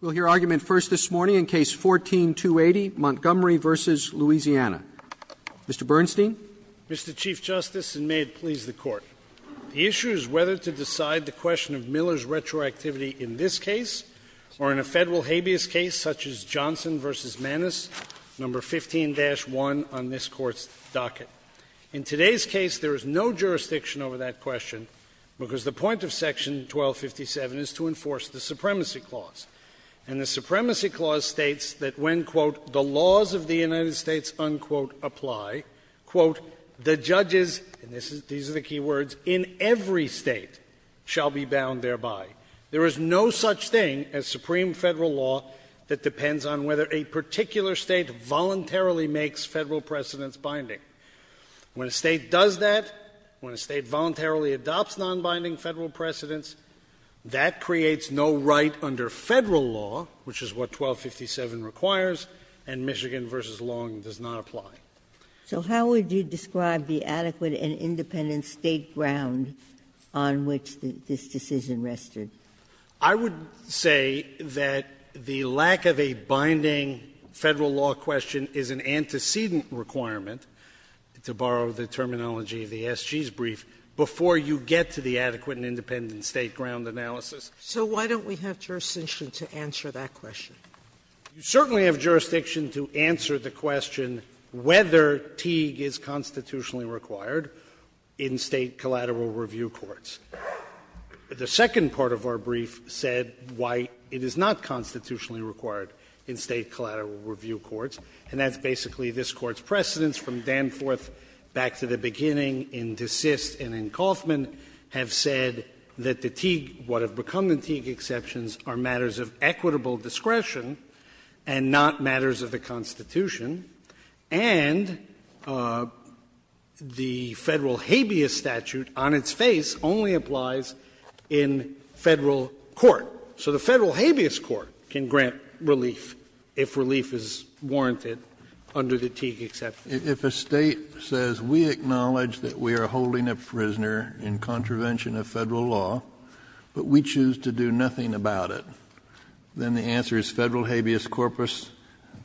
We'll hear argument first this morning in Case 14-280, Montgomery v. Louisiana. Mr. Bernstein? Mr. Chief Justice, and may it please the Court, the issue is whether to decide the question of Miller's retroactivity in this case or in a federal habeas case such as Johnson v. Manis, No. 15-1 on this Court's docket. In today's case, there is no jurisdiction over that question because the point of Section 1257 is to enforce the Supremacy Clause, and the Supremacy Clause states that when, quote, the laws of the United States, unquote, apply, quote, the judges, and these are the key words, in every state shall be bound thereby. There is no such thing as supreme federal law that depends on whether a particular state voluntarily makes federal precedence binding. When a state does that, when a state voluntarily adopts non-binding federal precedence, that creates no right under federal law, which is what 1257 requires, and Michigan v. Long does not apply. So how would you describe the adequate and independent state grounds on which this decision rested? I would say that the lack of a binding federal law question is an antecedent requirement, to borrow the terminology of the SG's brief, before you get to the adequate and independent state ground analysis. So why don't we have jurisdiction to answer that question? You certainly have jurisdiction to answer the question whether Teague is constitutionally required in state collateral review courts. The second part of our brief said why it is not constitutionally required in state collateral review courts, and that's basically this Court's precedents from Danforth back to the beginning in DeSist and in Kauffman have said that the Teague, what have become the Teague exceptions, are matters of equitable discretion and not matters of the Constitution, and the federal habeas statute on its face only applies in federal court. So the federal habeas court can grant relief if relief is warranted under the Teague exception. If a state says we acknowledge that we are holding a prisoner in contravention of federal law, but we choose to do nothing about it, then the answer is federal habeas corpus,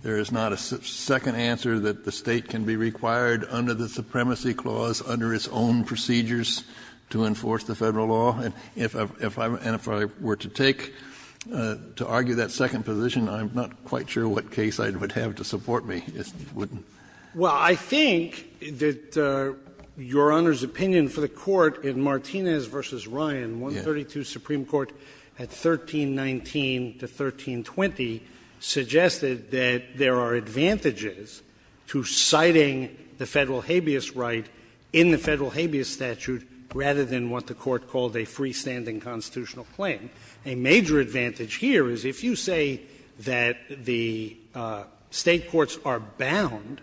there is not a second answer that the state can be required under the supremacy clause under its own procedures to enforce the federal law. And if I were to take, to argue that second position, I'm not quite sure what case I would have to support me. Well, I think that Your Honor's opinion for the Court in Martinez v. Ryan, 132 Supreme Court at 1319 to 1320, suggested that there are advantages to citing the federal habeas right in the federal habeas statute rather than what the Court called a freestanding constitutional claim. A major advantage here is if you say that the state courts are bound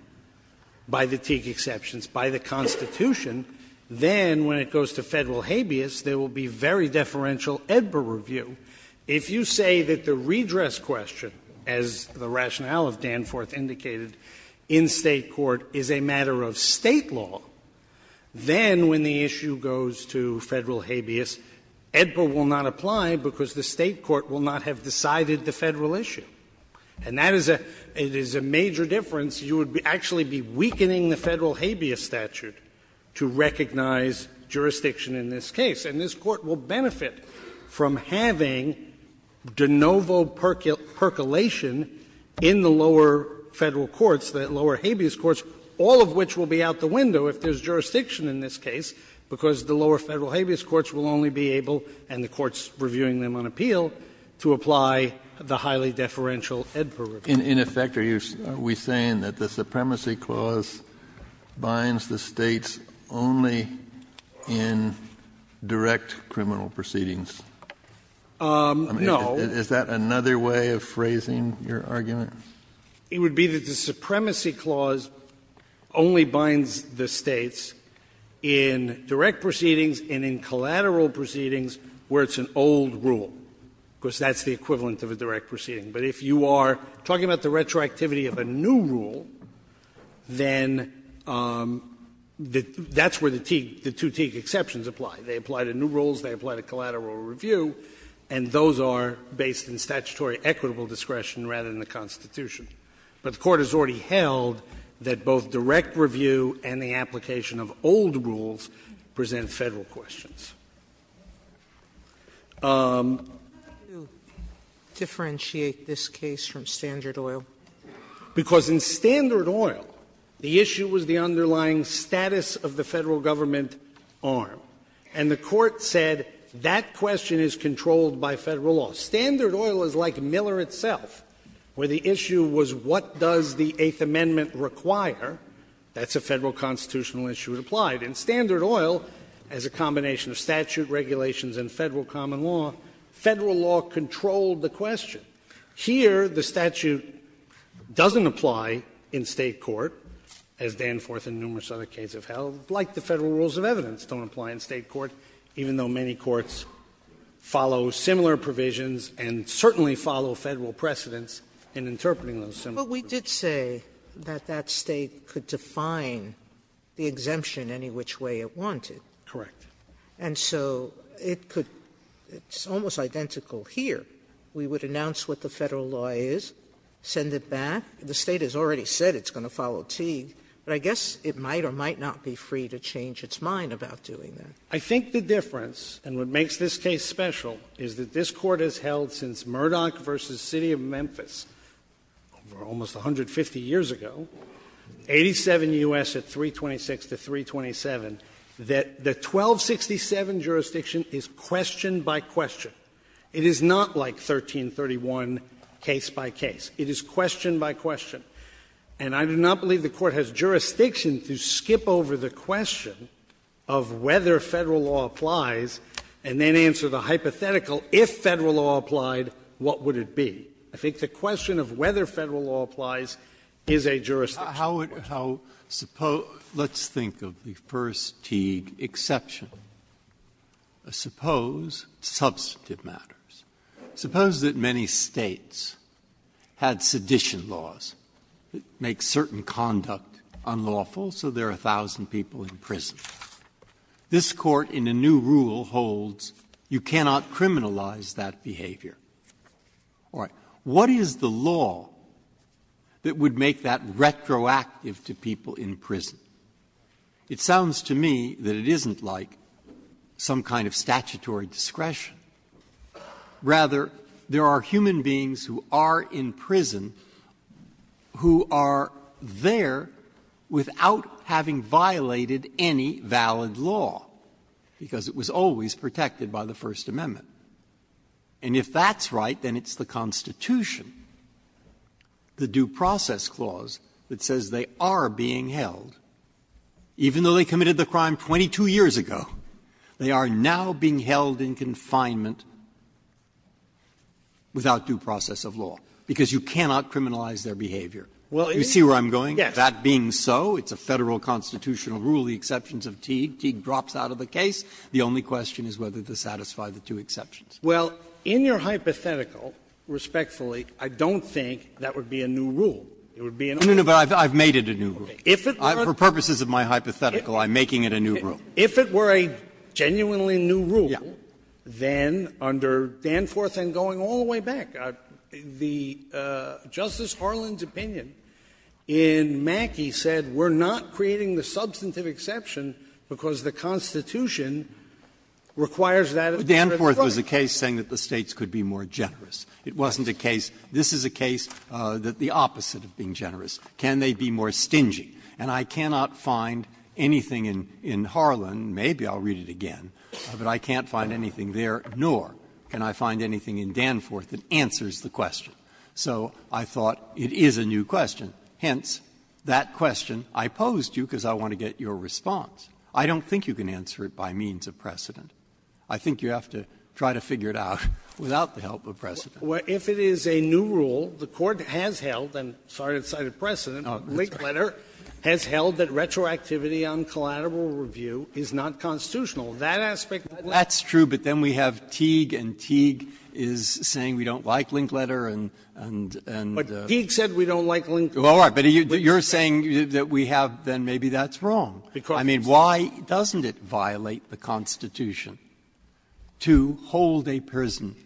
by the Teague exceptions, by the Constitution, then when it goes to federal habeas, there will be very little differential EDBA review. If you say that the redress question, as the rationale of Danforth indicated, in state court is a matter of state law, then when the issue goes to federal habeas, EDBA will not apply because the state court will not have decided the federal issue. And that is a major difference. You would actually be weakening the federal habeas statute to recognize jurisdiction in this case. And this Court will benefit from having de novo percolation in the lower federal courts, the lower habeas courts, all of which will be out the window if there's jurisdiction in this case, because the lower federal habeas courts will only be able and the courts reviewing them on appeal to apply the highly deferential EDBA review. In effect, are we saying that the Supremacy Clause binds the States only in direct criminal proceedings? No. Is that another way of phrasing your argument? It would be that the Supremacy Clause only binds the States in direct proceedings and in collateral proceedings where it's an old rule, because that's the equivalent of a direct proceeding. But if you are talking about the retroactivity of a new rule, then that's where the two Teague exceptions apply. They apply to new rules, they apply to collateral review, and those are based in statutory equitable discretion rather than the Constitution. But the Court has already held that both direct review and the application of old rules present federal questions. Sotomayor. I would like to differentiate this case from Standard Oil. Because in Standard Oil, the issue was the underlying status of the Federal Government arm, and the Court said that question is controlled by Federal law. Standard Oil is like Miller itself, where the issue was what does the Eighth Amendment require. That's a Federal constitutional issue. It applied. In Standard Oil, as a combination of statute, regulations, and Federal common law, Federal law controlled the question. Here, the statute doesn't apply in State court, as Danforth and numerous other cases have held, like the Federal rules of evidence don't apply in State court, even though many courts follow similar provisions and certainly follow Federal precedents in interpreting those similar provisions. But we did say that that State could define the exemption any which way it wanted. Correct. And so it could — it's almost identical here. We would announce what the Federal law is, send it back. The State has already said it's going to follow T, but I guess it might or might not be free to change its mind about doing that. I think the difference, and what makes this case special, is that this Court has held since Murdoch v. City of Memphis, almost 150 years ago, 87 U.S. at 326 to 327, that the 1267 jurisdiction is question by question. It is not like 1331 case by case. It is question by question. And I do not believe the Court has jurisdiction to skip over the question of whether Federal law applies and then answer the hypothetical, if Federal law applied, what would it be? I think the question of whether Federal law applies is a jurisdiction. How — let's think of the first T exception. Suppose substantive matters. Suppose that many States had sedition laws that make certain conduct unlawful, so there are 1,000 people in prison. This Court, in a new rule, holds you cannot criminalize that behavior. All right. What is the law that would make that retroactive to people in prison? It sounds to me that it isn't like some kind of statutory discretion. Rather, there are human beings who are in prison who are there without having violated any valid law, because it was always protected by the First Amendment. And if that's right, then it's the Constitution, the Due Process Clause, that says they are being held, even though they committed the crime 22 years ago, they are now being held in confinement without due process of law, because you cannot criminalize their behavior. You see where I'm going? Yes. That being so, it's a Federal constitutional rule, the exceptions of Teague. Teague drops out of the case. The only question is whether to satisfy the two exceptions. Well, in your hypothetical, respectfully, I don't think that would be a new rule. I've made it a new rule. For purposes of my hypothetical, I'm making it a new rule. If it were a genuinely new rule, then under Danforth, and going all the way back, Justice Harlan's opinion in Mackey said we're not creating the substantive exception because the Constitution requires that. Danforth was a case saying that the States could be more generous. It wasn't a case. This is a case that the opposite of being generous. Can they be more stingy? And I cannot find anything in Harlan. Maybe I'll read it again. But I can't find anything there, nor can I find anything in Danforth that answers the question. So I thought it is a new question. Hence, that question I posed to you because I want to get your response. I don't think you can answer it by means of precedent. I think you have to try to figure it out without the help of precedent. Well, if it is a new rule, the Court has held, and cited precedent, Linkletter has held that retroactivity on collateral review is not constitutional. That aspect might not be true. That's true, but then we have Teague, and Teague is saying we don't like Linkletter. But Teague said we don't like Linkletter. All right. But you're saying that we have, then maybe that's wrong. I mean, why doesn't it violate the Constitution to hold a person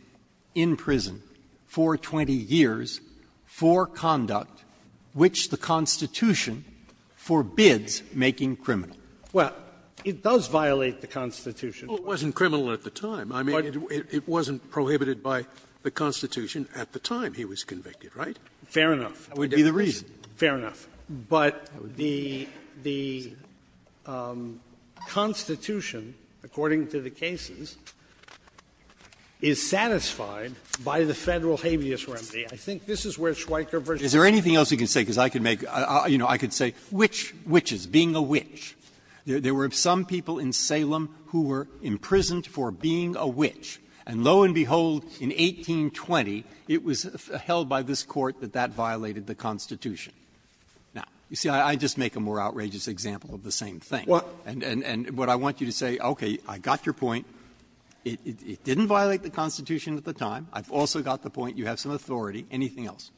in prison for 20 years for conduct which the Constitution forbids making criminal? Well, it does violate the Constitution. Well, it wasn't criminal at the time. I mean, it wasn't prohibited by the Constitution at the time he was convicted, right? Fair enough. That would be the reason. Fair enough. But the Constitution, according to the cases, is satisfied by the Federal habeas remedy. I think this is where Schweiker v. Is there anything else you can say? Because I can make — you know, I could say witches, being a witch. There were some people in Salem who were imprisoned for being a witch. And lo and behold, in 1820, it was held by this Court that that violated the Constitution. Now, you see, I just make a more outrageous example of the same thing. And what I want you to say, okay, I got your point. It didn't violate the Constitution at the time. I've also got the point. You have some authority. Anything else?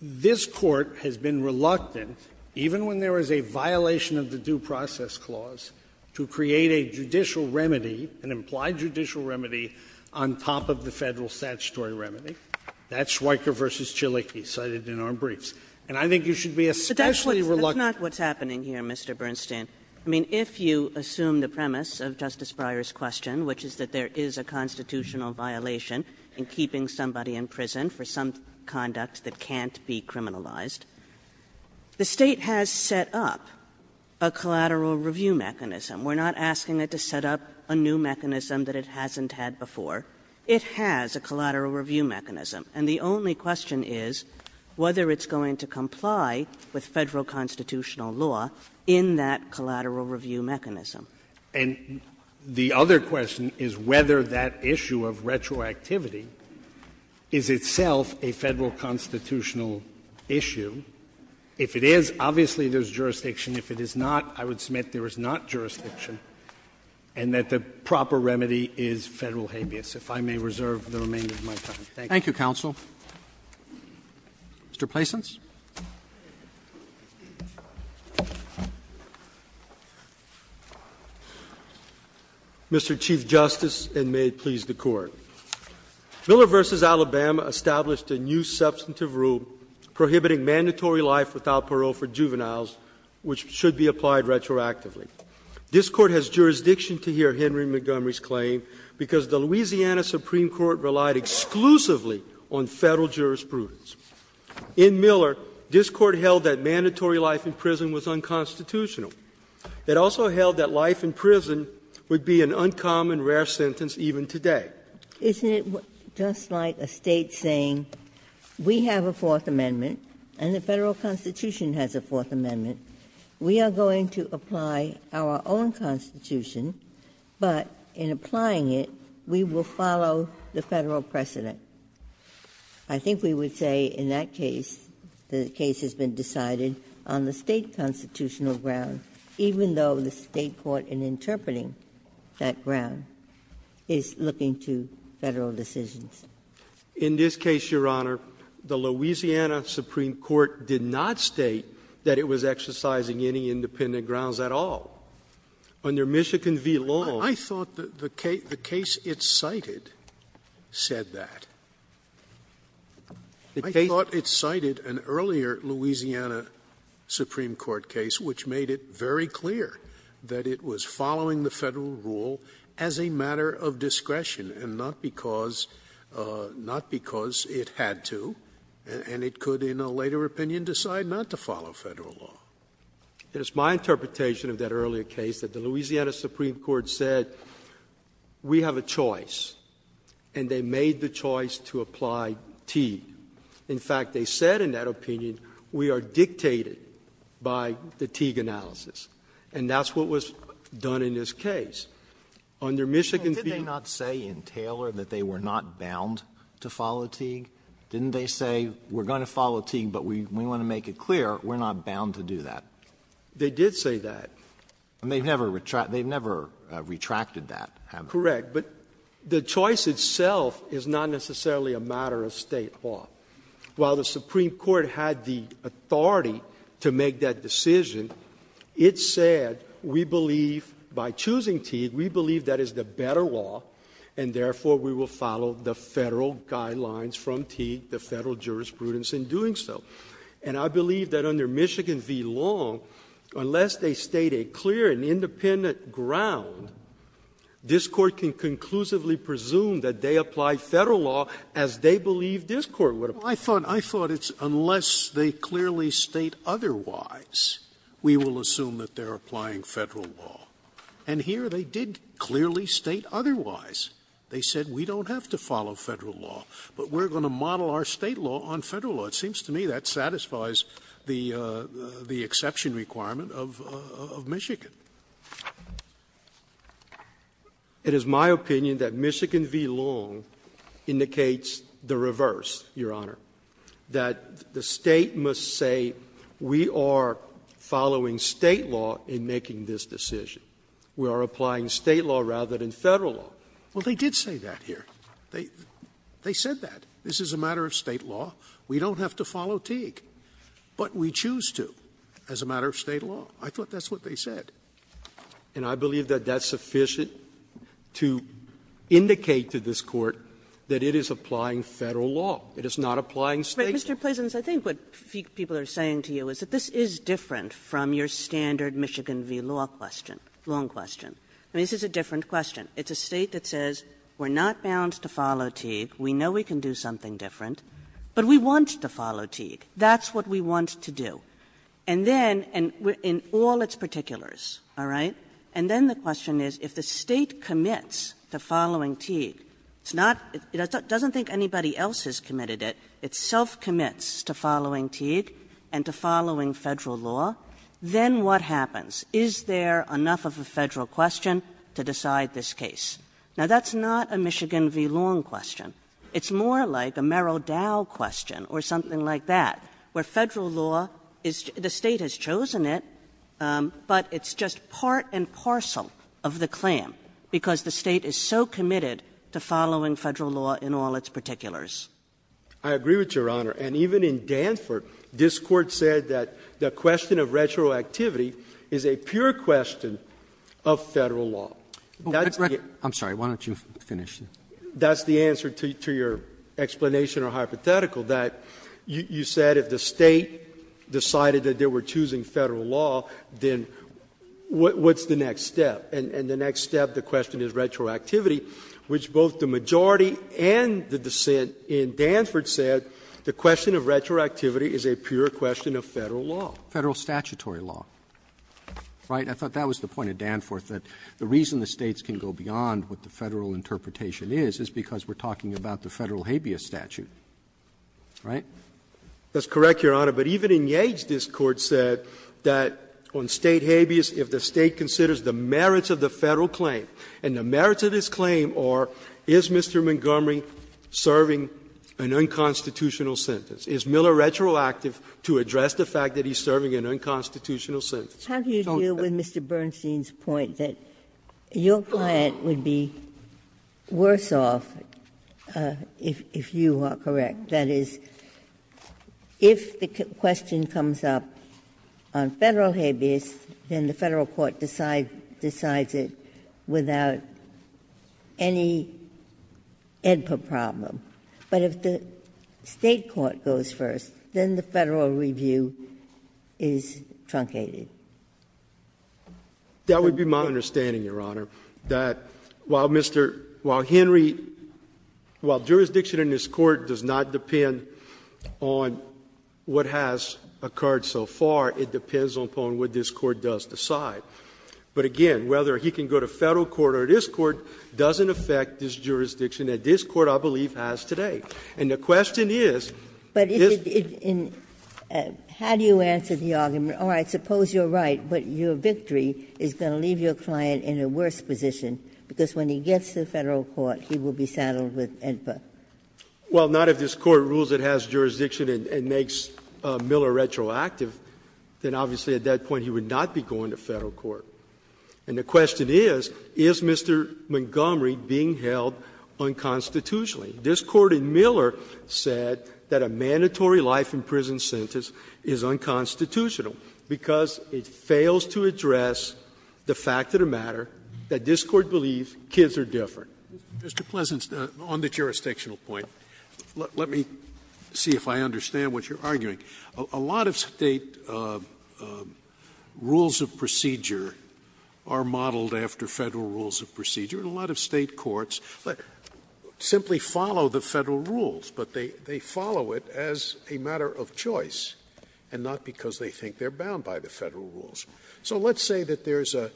This Court has been reluctant, even when there was a violation of the Due Process Clause, to create a judicial remedy, an implied judicial remedy, on top of the Federal statutory remedy. That's Schweiker v. Chiliki, cited in our briefs. And I think you should be especially reluctant — But that's not what's happening here, Mr. Bernstein. I mean, if you assume the premise of Justice Breyer's question, which is that there is a constitutional violation in keeping somebody in prison for some conduct that can't be criminalized, the State has set up a collateral review mechanism. We're not asking it to set up a new mechanism that it hasn't had before. It has a collateral review mechanism. And the only question is whether it's going to comply with Federal constitutional law in that collateral review mechanism. And the other question is whether that issue of retroactivity is itself a Federal constitutional issue. If it is, obviously there's jurisdiction. If it is not, I would submit there is not jurisdiction, and that the proper remedy is Federal habeas. If I may reserve the remainder of my time. Thank you. Thank you, counsel. Mr. Patience. Mr. Chief Justice, and may it please the Court. Miller v. Alabama established a new substantive rule prohibiting mandatory life without parole for juveniles, which should be applied retroactively. This Court has jurisdiction to hear Henry Montgomery's claim because the Louisiana Supreme Court relied exclusively on Federal jurisprudence. In Miller, this Court held that mandatory life in prison was unconstitutional. It also held that life in prison would be an uncommon, rare sentence even today. Isn't it just like a State saying, we have a Fourth Amendment, and the Federal Constitution has a Fourth Amendment. We are going to apply our own Constitution, but in applying it, we will follow the Federal precedent. I think we would say in that case, the case has been decided on the State constitutional ground, even though the State court in interpreting that ground is looking to Federal decisions. In this case, Your Honor, the Louisiana Supreme Court did not state that it was exercising any independent grounds at all. Under Michigan v. Long. I thought the case it cited said that. I thought it cited an earlier Louisiana Supreme Court case, which made it very clear that it was following the Federal rule as a matter of discretion, and not because it had to, and it could, in a later opinion, decide not to follow Federal law. It is my interpretation of that earlier case that the Louisiana Supreme Court said, we have a choice, and they made the choice to apply Teague. In fact, they said in that opinion, we are dictated by the Teague analysis, and that's what was done in this case. Under Michigan v. Long. Didn't they not say in Taylor that they were not bound to follow Teague? Didn't they say, we're going to follow Teague, but we want to make it clear that we're not bound to do that? They did say that. They never retracted that, have they? Correct. But the choice itself is not necessarily a matter of state law. While the Supreme Court had the authority to make that decision, it said, we believe by choosing Teague, we believe that is the better law, and therefore, we will follow the Federal guidelines from Teague, the Federal jurisprudence in doing so. And I believe that under Michigan v. Long, unless they state a clear and independent ground, this Court can conclusively presume that they apply Federal law as they believe this Court would apply. I thought it's unless they clearly state otherwise, we will assume that they're applying Federal law. And here they did clearly state otherwise. They said, we don't have to follow Federal law, but we're going to model our state law on Federal law. It seems to me that satisfies the exception requirement of Michigan. It is my opinion that Michigan v. Long indicates the reverse, Your Honor, that the State must say, we are following State law in making this decision. We are applying State law rather than Federal law. Well, they did say that here. They said that. This is a matter of State law. We don't have to follow Teague. But we choose to as a matter of State law. I thought that's what they said. And I believe that that's sufficient to indicate to this Court that it is applying Federal law. It is not applying State law. But, Mr. Pleasons, I think what people are saying to you is that this is different from your standard Michigan v. Long question. This is a different question. It's a State that says, we're not bound to follow Teague. We know we can do something different. But we want to follow Teague. That's what we want to do. And then, in all its particulars, all right, and then the question is, if the State commits to following Teague, it doesn't think anybody else has committed it, it self-commits to following Teague and to following Federal law, then what happens? Is there enough of a Federal question to decide this case? Now, that's not a Michigan v. Long question. It's more like a Merrill Dow question or something like that, where Federal law is the State has chosen it, but it's just part and parcel of the claim because the State is so committed to following Federal law in all its particulars. I agree with Your Honor. And even in Danford, this Court said that the question of retroactivity is a pure question of Federal law. I'm sorry. Why don't you finish? That's the answer to your explanation or hypothetical, that you said if the State decided that they were choosing Federal law, then what's the next step? And the next step, the question is retroactivity, which both the majority and the dissent in Danford said the question of retroactivity is a pure question of Federal law. Federal statutory law, right? I thought that was the point of Danford, that the reason the States can go back to what the Constitution is, is because we're talking about the Federal habeas statute, right? That's correct, Your Honor. But even in Yates, this Court said that on State habeas, if the State considers the merits of the Federal claim, and the merits of this claim are, is Mr. Montgomery serving an unconstitutional sentence? Is Miller retroactive to address the fact that he's serving an unconstitutional sentence? How do you deal with Mr. Bernstein's point that your client would be worse off if you are correct? That is, if the question comes up on Federal habeas, then the Federal court decides it without any input problem. But if the State court goes first, then the Federal review is truncated. That would be my understanding, Your Honor, that while Mr. — while Henry — while jurisdiction in this Court does not depend on what has occurred so far, it depends upon what this Court does decide. But again, whether he can go to Federal court or this Court doesn't affect this case today. And the question is — But if — how do you answer the argument, all right, suppose you're right, but your victory is going to leave your client in a worse position, because when he gets to Federal court, he will be saddled with INFA? Well, not if this Court rules it has jurisdiction and makes Miller retroactive, then obviously at that point he would not be going to Federal court. And the question is, is Mr. Montgomery being held unconstitutionally? Because this Court in Miller said that a mandatory life in prison sentence is unconstitutional because it fails to address the fact of the matter that this Court believes kids are different. Mr. Pleasant, on the jurisdictional point, let me see if I understand what you're arguing. A lot of State rules of procedure are modeled after Federal rules of procedure. A lot of State courts simply follow the Federal rules, but they follow it as a matter of choice and not because they think they're bound by the Federal rules. So let's say that there's a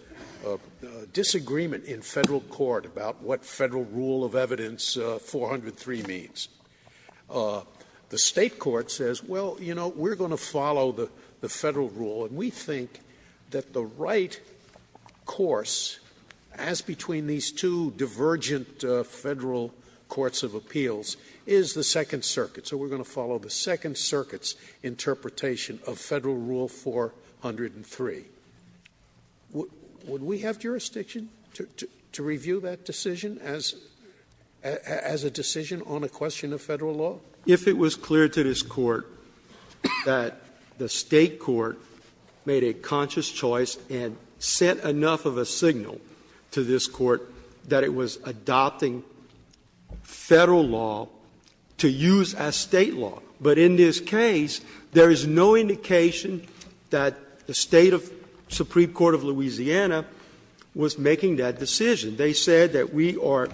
disagreement in Federal court about what Federal rule of evidence 403 means. The State court says, well, you know, we're going to follow the Federal rule, and we federal courts of appeals is the Second Circuit. So we're going to follow the Second Circuit's interpretation of Federal rule 403. Would we have jurisdiction to review that decision as a decision on a question of Federal law? If it was clear to this Court that the State court made a conscious choice and sent enough of a signal to this Court that it was adopting Federal law to use as State law. But in this case, there is no indication that the State Supreme Court of Louisiana was making that decision. They said that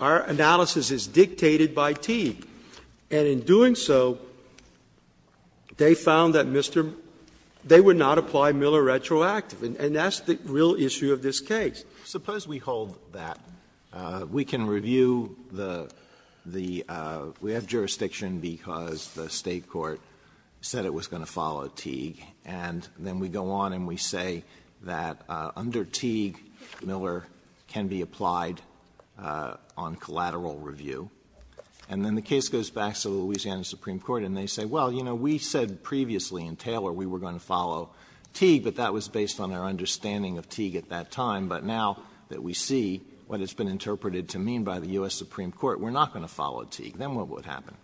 our analysis is dictated by teeth. And in doing so, they found that they would not apply Miller retroactive. And that's the real issue of this case. Suppose we hold that. We can review the, we have jurisdiction because the State court said it was going to follow Teague. And then we go on and we say that under Teague, Miller can be applied on collateral review. And then the case goes back to Louisiana Supreme Court, and they say, well, you know, we said previously in Taylor we were going to follow Teague, but that was based on our understanding of Teague at that time. But now that we see what has been interpreted to mean by the U.S. Supreme Court, we're not going to follow Teague. Then what would happen?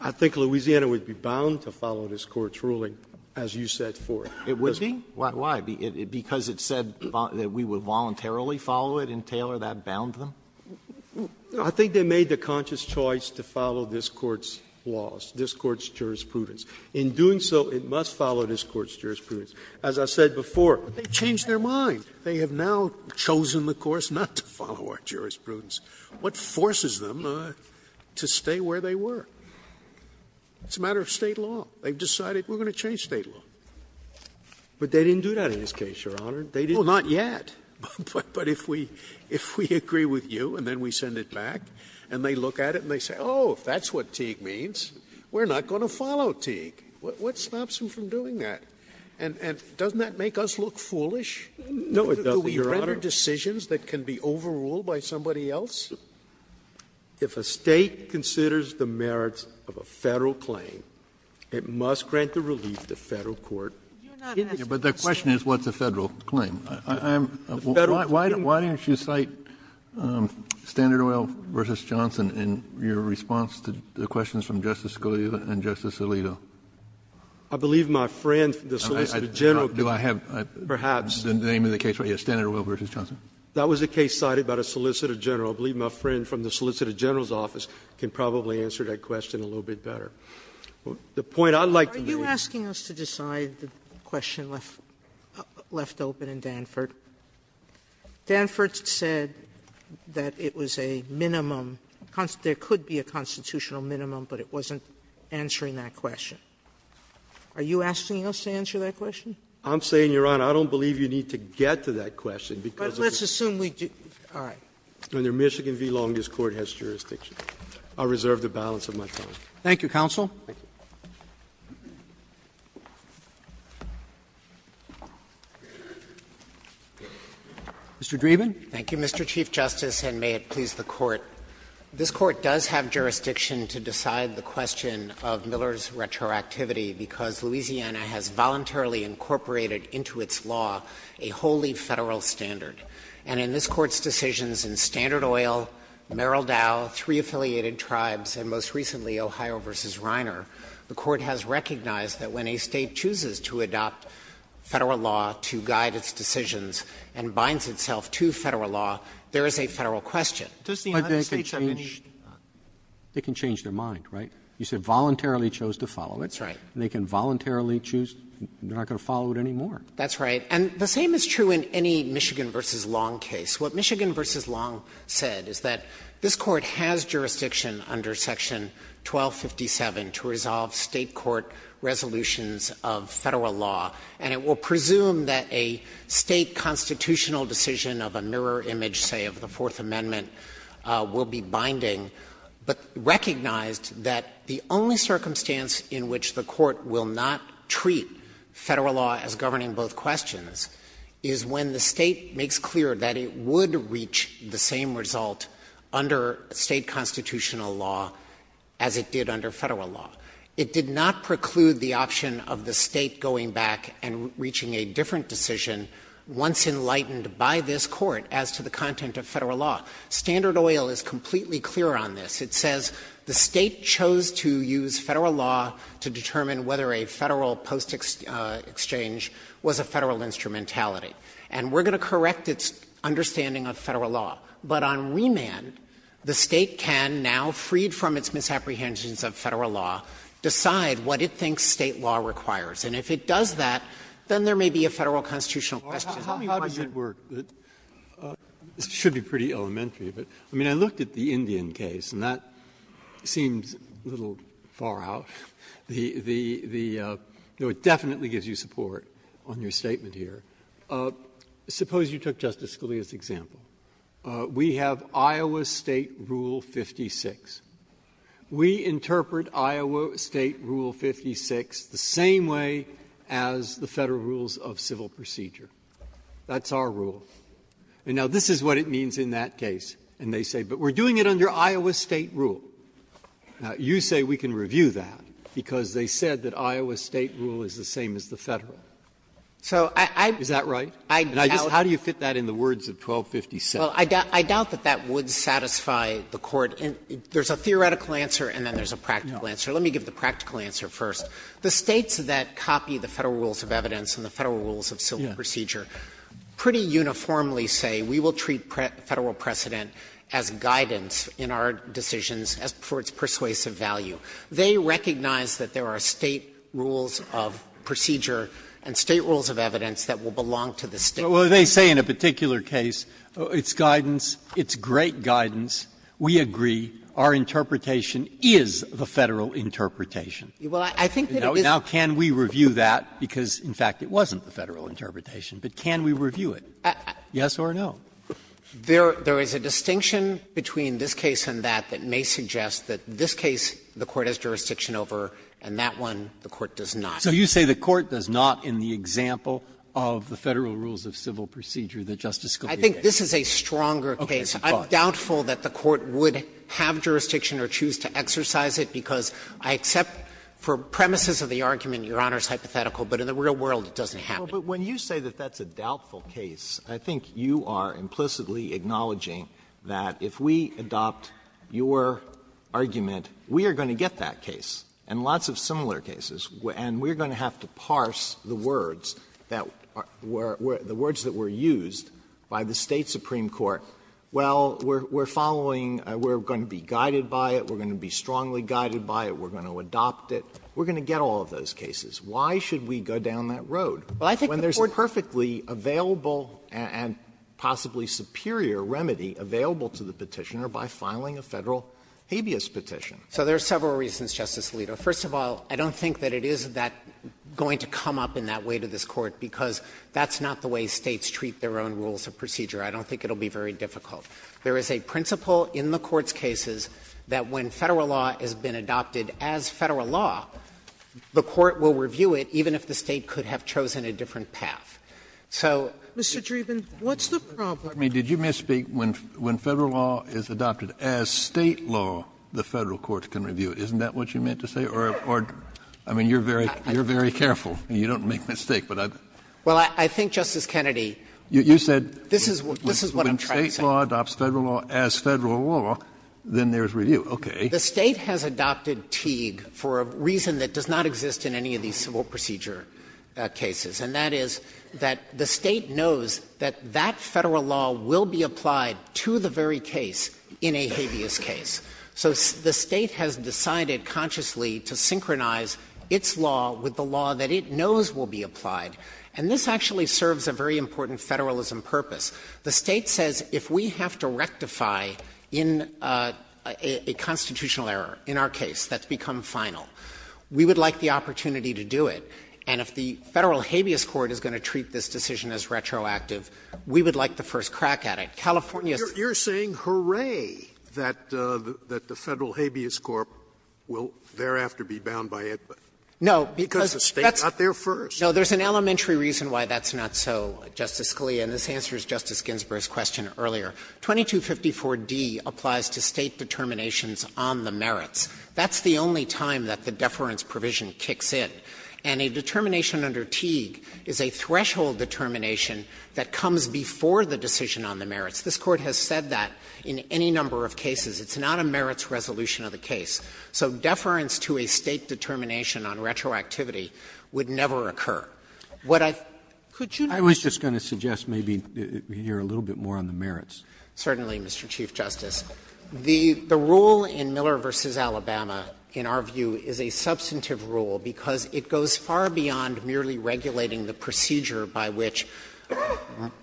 I think Louisiana would be bound to follow this Court's ruling, as you said, for Teague. Why? Because it said that we would voluntarily follow it in Taylor? That bound them? I think they made the conscious choice to follow this Court's laws, this Court's jurisprudence. In doing so, it must follow this Court's jurisprudence. As I said before, they changed their mind. They have now chosen the course not to follow our jurisprudence. What forces them to stay where they were? It's a matter of State law. They've decided we're going to change State law. But they didn't do that in this case, Your Honor. They didn't. Well, not yet. But if we agree with you, and then we send it back, and they look at it and they say, oh, if that's what Teague means, we're not going to follow Teague. What stops them from doing that? And doesn't that make us look foolish? No, it doesn't, Your Honor. Do we make decisions that can be overruled by somebody else? If a State considers the merits of a Federal claim, it must grant the relief that Federal Court gives it. But the question is, what's a Federal claim? Why didn't you cite Standard Oil v. Johnson in your response to the questions from Justice Scalia and Justice Alito? I believe my friend, the Solicitor General... Do I have... Perhaps. ...the name of the case? Yes, Standard Oil v. Johnson. That was a case cited by the Solicitor General. I believe my friend from the Solicitor General's office can probably answer that question a little bit better. The point I'd like... Are you asking us to decide the question left open in Danford? Danford said that it was a minimum... There could be a constitutional minimum, but it wasn't answering that question. Are you asking us to answer that question? I'm saying, Your Honor, I don't believe you need to get to that question because... But let's assume we do... All right. ...whether Michigan v. Long Beach Court has jurisdiction. I'll reserve the balance of my time. Thank you, Counsel. Mr. Dreeben. Thank you, Mr. Chief Justice, and may it please the Court. This Court does have jurisdiction to decide the question of Miller's retroactivity because Louisiana has voluntarily incorporated into its law a wholly federal standard. And in this Court's decisions in Standard Oil, Merrill Dow, three affiliated tribes, and most recently Ohio v. Reiner, the Court has recognized that when a state chooses to adopt federal law to guide its decisions and binds itself to federal law, there is a federal question. But they can change their mind, right? You said voluntarily chose to follow it. That's right. They can voluntarily choose. They're not going to follow it anymore. That's right. And the same is true in any Michigan v. Long case. What Michigan v. Long said is that this Court has jurisdiction under Section 1257 to resolve state court resolutions of federal law. And it will presume that a state constitutional decision of a newer image, say of the Fourth Amendment, will be binding. But recognize that the only circumstance in which the Court will not treat federal law as governing both questions is when the state makes clear that it would reach the same result under state constitutional law as it did under federal law. It did not preclude the option of the state going back and reaching a different decision, once enlightened by this Court, as to the content of federal law. Standard Oil is completely clear on this. It says the state chose to use federal law to determine whether a federal post-exchange was a federal instrumentality. And we're going to correct its understanding of federal law. But on remand, the state can now, freed from its misapprehensions of federal law, decide what it thinks state law requires. And if it does that, then there may be a federal constitutional question. I have a question. It should be pretty elementary. I mean, I looked at the Indian case, and that seemed a little far out. It definitely gives you support on your statement here. Suppose you took Justice Scalia's example. We have Iowa State Rule 56. We interpret Iowa State Rule 56 the same way as the federal rules of civil procedure. That's our rule. And now, this is what it means in that case. And they say, but we're doing it under Iowa State rule. Now, you say we can review that because they said that Iowa State rule is the same as the federal. Is that right? And how do you fit that in the words of 1257? Well, I doubt that that would satisfy the Court. There's a theoretical answer, and then there's a practical answer. Let me give the practical answer first. The States that copy the federal rules of evidence and the federal rules of civil procedure pretty uniformly say we will treat federal precedent as guidance in our decisions for its persuasive value. They recognize that there are State rules of procedure and State rules of evidence that will belong to the State. Well, they say in a particular case, it's guidance. It's great guidance. We agree. Our interpretation is the federal interpretation. Well, I think that it is. Now, can we review that? Because, in fact, it wasn't the federal interpretation. But can we review it? Yes or no? There is a distinction between this case and that that may suggest that this case, the Court has jurisdiction over, and that one, the Court does not. So you say the Court does not in the example of the federal rules of civil procedure that Justice Scalia gave? I think this is a stronger case. I'm doubtful that the Court would have jurisdiction or choose to exercise it because I accept for premises of the argument Your Honor is hypothetical, but in the real world it doesn't happen. Well, but when you say that that's a doubtful case, I think you are implicitly acknowledging that if we adopt your argument, we are going to get that case and lots of similar cases. And we are going to have to parse the words that were used by the State Supreme Court. Well, we are following, we are going to be guided by it, we are going to be strongly guided by it, we are going to adopt it. We are going to get all of those cases. Why should we go down that road? Well, I think the Court When there is a perfectly available and possibly superior remedy available to the Petitioner by filing a federal habeas petition. So there are several reasons, Justice Alito. First of all, I don't think that it is that going to come up in that way to this Court because that's not the way States treat their own rules of procedure. I don't think it will be very difficult. There is a principle in the Court's cases that when Federal law has been adopted as Federal law, the Court will review it even if the State could have chosen a different path. So Mr. Dreeben, what's the problem? I mean, did you misspeak? When Federal law is adopted as State law, the Federal courts can review it. Isn't that what you meant to say? I mean, you're very careful and you don't make mistakes. Well, I think, Justice Kennedy, this is what I'm trying to say. You said when State law adopts Federal law as Federal law, then there is review. Okay. The State has adopted Teague for a reason that does not exist in any of these civil procedure cases, and that is that the State knows that that Federal law will be applied to the very case in a habeas case. So the State has decided consciously to synchronize its law with the law that it knows will be applied, and this actually serves a very important Federalism purpose. The State says if we have to rectify in a constitutional error, in our case, that's become final, we would like the opportunity to do it. And if the Federal habeas court is going to treat this decision as retroactive, we would like the first crack at it. You're saying hooray that the Federal habeas court will thereafter be bound by it. No. Because the State got there first. No. There's an elementary reason why that's not so, Justice Scalia, and this answers Justice Ginsburg's question earlier. 2254d applies to State determinations on the merits. That's the only time that the deference provision kicks in. And a determination under Teague is a threshold determination that comes before the decision on the merits. This Court has said that in any number of cases. It's not a merits resolution of a case. So deference to a State determination on retroactivity would never occur. What I — I was just going to suggest maybe we hear a little bit more on the merits. Certainly, Mr. Chief Justice. The rule in Miller v. Alabama, in our view, is a substantive rule because it goes far beyond merely regulating the procedure by which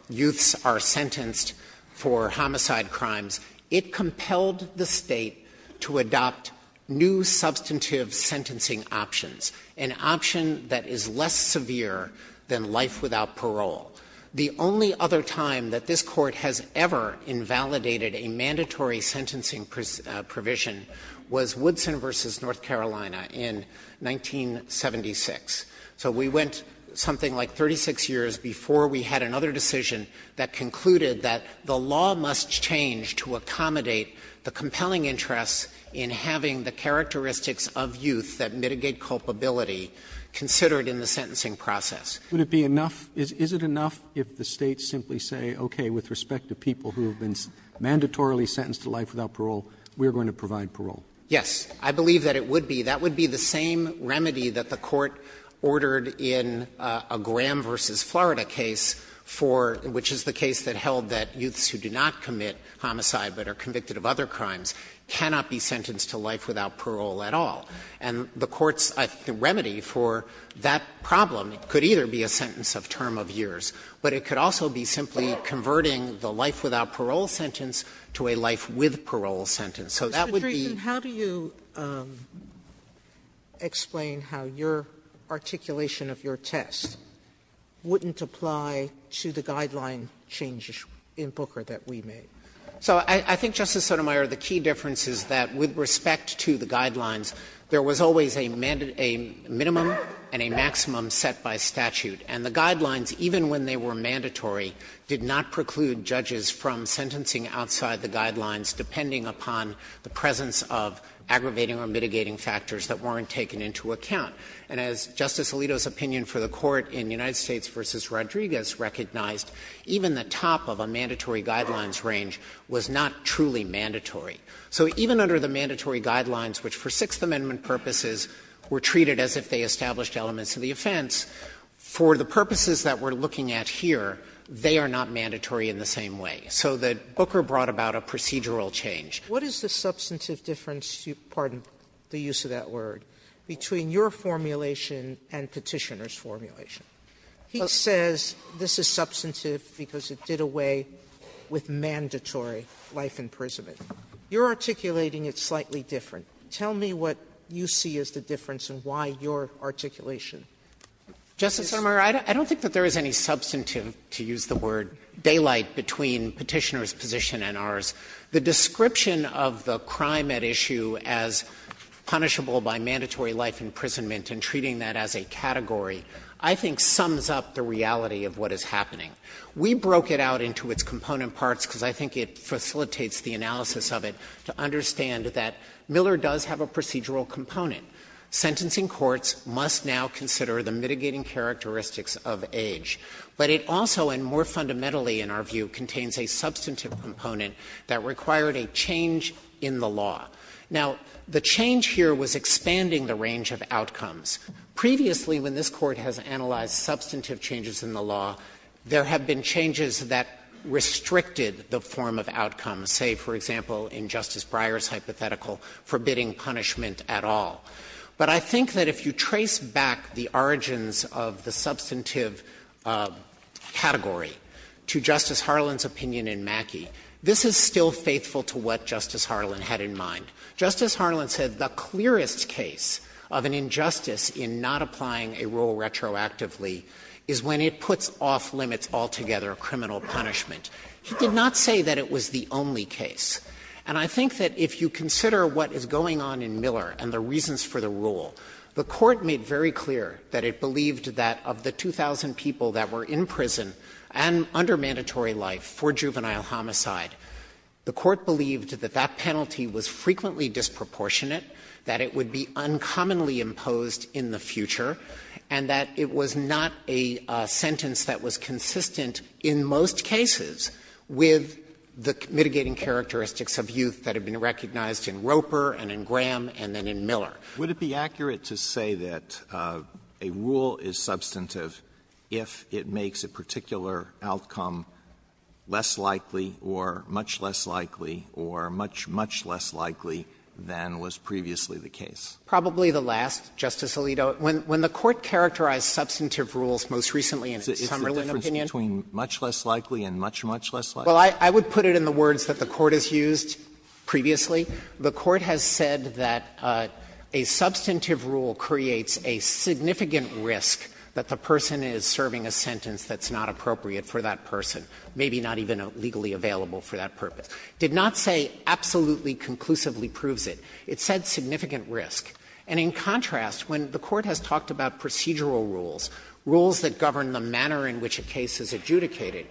youths are sentenced for homicide crimes. It compelled the State to adopt new substantive sentencing options, an option that is less severe than life without parole. The only other time that this Court has ever invalidated a mandatory sentencing provision was Woodson v. North Carolina in 1976. So we went something like 36 years before we had another decision that concluded that the law must change to accommodate the compelling interest in having the characteristics of youth that mitigate culpability considered in the sentencing process. Would it be enough — is it enough if the States simply say, okay, with respect to people who have been mandatorily sentenced to life without parole, we are going to provide parole? Yes. I believe that it would be. That would be the same remedy that the Court ordered in a Graham v. Florida case for — which is the case that held that youths who did not commit homicide but are convicted of other crimes cannot be sentenced to life without parole at all. And the Court's remedy for that problem could either be a sentence of term of years, but it could also be simply converting the life without parole sentence to a life with parole sentence. So that would be — Mr. Friedman, how do you explain how your articulation of your test wouldn't apply to the guideline changes in Booker that we made? So I think, Justice Sotomayor, the key difference is that with respect to the guidelines, there was always a minimum and a maximum set by statute. And the guidelines, even when they were mandatory, did not preclude judges from sentencing outside the guidelines depending upon the presence of aggravating or mitigating factors that weren't taken into account. And as Justice Alito's opinion for the Court in the United States v. Rodriguez recognized, even the top of a mandatory guidelines range was not truly mandatory. So even under the mandatory guidelines, which for Sixth Amendment purposes were treated as if they established elements of the offense, for the purposes that we're looking at here, they are not mandatory in the same way. So that Booker brought about a procedural change. What is the substantive difference — pardon the use of that word — between your formulation and Petitioner's formulation? He says this is substantive because it did away with mandatory life imprisonment. You're articulating it slightly different. Tell me what you see as the difference and why your articulation. Justice Sotomayor, I don't think that there is any substantive, to use the word, daylight between Petitioner's position and ours. The description of the crime at issue as punishable by mandatory life imprisonment and treating that as a category I think sums up the reality of what is happening. We broke it out into its component parts because I think it facilitates the analysis of it to understand that Miller does have a procedural component. Sentencing courts must now consider the mitigating characteristics of age. But it also, and more fundamentally in our view, contains a substantive component that required a change in the law. Now, the change here was expanding the range of outcomes. Previously, when this Court has analyzed substantive changes in the law, there have been changes that restricted the form of outcomes. Say, for example, in Justice Breyer's hypothetical, forbidding punishment at all. But I think that if you trace back the origins of the substantive category to Justice Harlan's opinion in Mackey, this is still faithful to what Justice Harlan had in mind. Justice Harlan said the clearest case of an injustice in not applying a rule retroactively is when it puts off limits altogether of criminal punishment. He did not say that it was the only case. And I think that if you consider what is going on in Miller and the reasons for the rule, the Court made very clear that it believed that of the 2,000 people that were in prison and under mandatory life for juvenile homicide, the Court believed that that penalty was frequently disproportionate, that it would be uncommonly imposed in the future, and that it was not a sentence that was consistent in most cases with the mitigating characteristics of youth that have been recognized in Roper and in Graham and then in Miller. Would it be accurate to say that a rule is substantive if it makes a particular outcome less likely or much less likely or much, much less likely than was previously the case? Probably the last, Justice Alito. When the Court characterized substantive rules most recently in its Summerlin opinion Is there a difference between much less likely and much, much less likely? Well, I would put it in the words that the Court has used previously. The Court has said that a substantive rule creates a significant risk that the person is serving a sentence that's not appropriate for that person, maybe not even legally available for that purpose. It did not say absolutely conclusively proves it. It said significant risk. And in contrast, when the Court has talked about procedural rules, rules that govern the manner in which a case is adjudicated,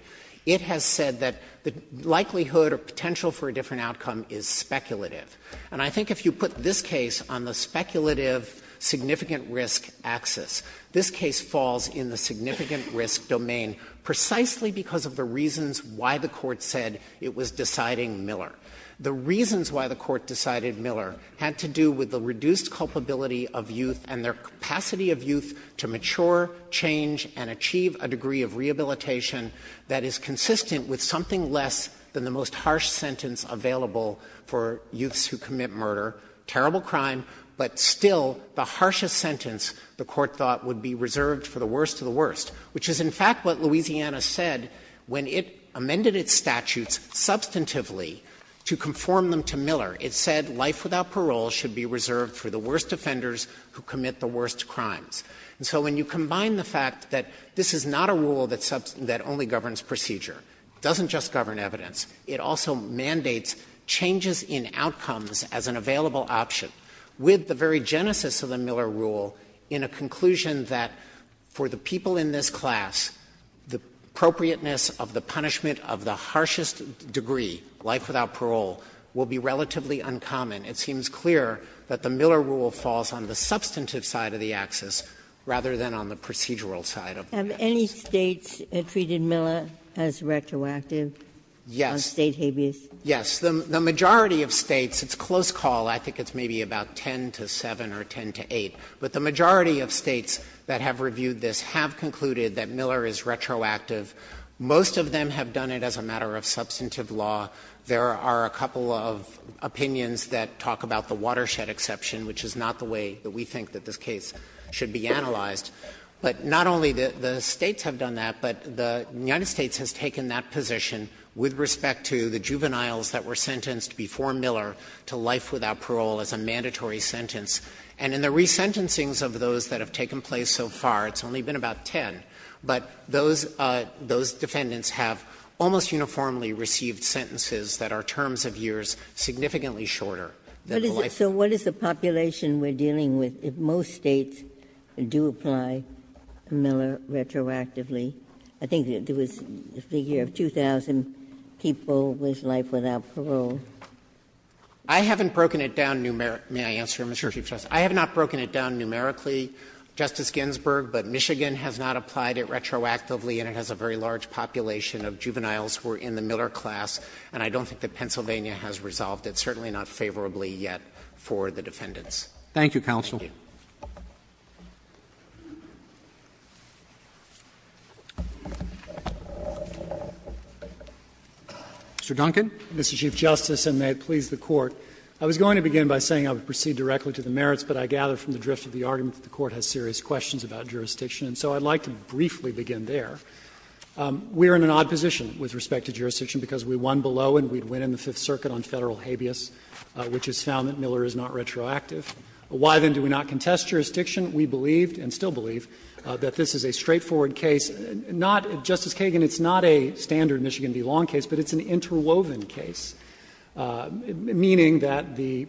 it has said that the likelihood or potential for a different outcome is speculative. And I think if you put this case on the speculative, significant risk axis, this case falls in the significant risk domain precisely because of the reasons why the Court said it was deciding Miller. The reasons why the Court decided Miller had to do with the reduced culpability of youth and their capacity of youth to mature, change, and achieve a degree of rehabilitation that is consistent with something less than the most harsh sentence available for youths who commit murder. Terrible crime, but still the harshest sentence the Court thought would be reserved for the worst of the worst, which is in fact what Louisiana said when it amended its statutes substantively to conform them to Miller. It said life without parole should be reserved for the worst offenders who commit the worst crimes. And so when you combine the fact that this is not a rule that only governs procedure, doesn't just govern evidence, it also mandates changes in outcomes as an available option with the very genesis of the Miller rule in a conclusion that for the people in this class, the appropriateness of the punishment of the harshest degree, life without parole, will be relatively uncommon. It seems clear that the Miller rule falls on the substantive side of the axis rather than on the procedural side of the axis. Have any States treated Miller as retroactive? Yes. State habeas? Yes. The majority of States, it's close call. I think it's maybe about 10 to 7 or 10 to 8. But the majority of States that have reviewed this have concluded that Miller is retroactive. Most of them have done it as a matter of substantive law. There are a couple of opinions that talk about the watershed exception, which is not the way that we think that this case should be analyzed. But not only the States have done that, but the United States has taken that position with respect to the juveniles that were sentenced before Miller to life without parole as a mandatory sentence. And in the resentencings of those that have taken place so far, it's only been about 10. But those defendants have almost uniformly received sentences that are terms of years significantly shorter. So what is the population we're dealing with if most States do apply Miller retroactively? I think it was the figure of 2,000 people with life without parole. I haven't broken it down numerically. May I answer, Mr. Chief Justice? I have not broken it down numerically, Justice Ginsburg. But Michigan has not applied it retroactively, and it has a very large population of juveniles who are in the Miller class. And I don't think that Pennsylvania has resolved it, certainly not favorably yet for the defendants. Thank you, counsel. Mr. Chief Justice, and may it please the Court, I was going to begin by saying I would proceed directly to the merits, but I gather from the drift of the argument that the Court has serious questions about jurisdiction. And so I'd like to briefly begin there. We are in an odd position with respect to jurisdiction because we won below and we'd win in the Fifth Circuit on federal habeas, which is sound that Miller is not retroactive. Why, then, do we not contest jurisdiction? We believe, and still believe, that this is a straightforward case. Not, Justice Kagan, it's not a standard Michigan v. Long case, but it's an interwoven case, meaning that the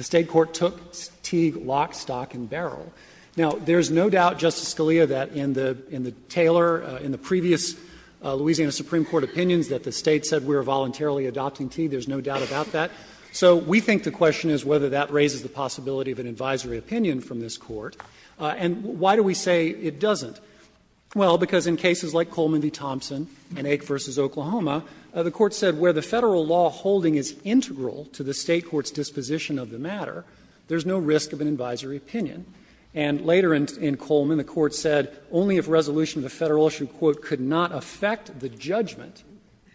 state court took Teague lock, stock, and barrel. Now, there's no doubt, Justice Scalia, that in the Taylor, in the previous Louisiana Supreme Court opinions, that the state said we were voluntarily adopting Teague. There's no doubt about that. So we think the question is whether that raises the possibility of an advisory opinion from this Court. And why do we say it doesn't? Well, because in cases like Coleman v. Thompson and Ake v. Oklahoma, the Court said where the federal law holding is integral to the state court's disposition of the matter, there's no risk of an advisory opinion. And later in Coleman, the Court said only if resolution of the federal issue, quote, could not affect the judgment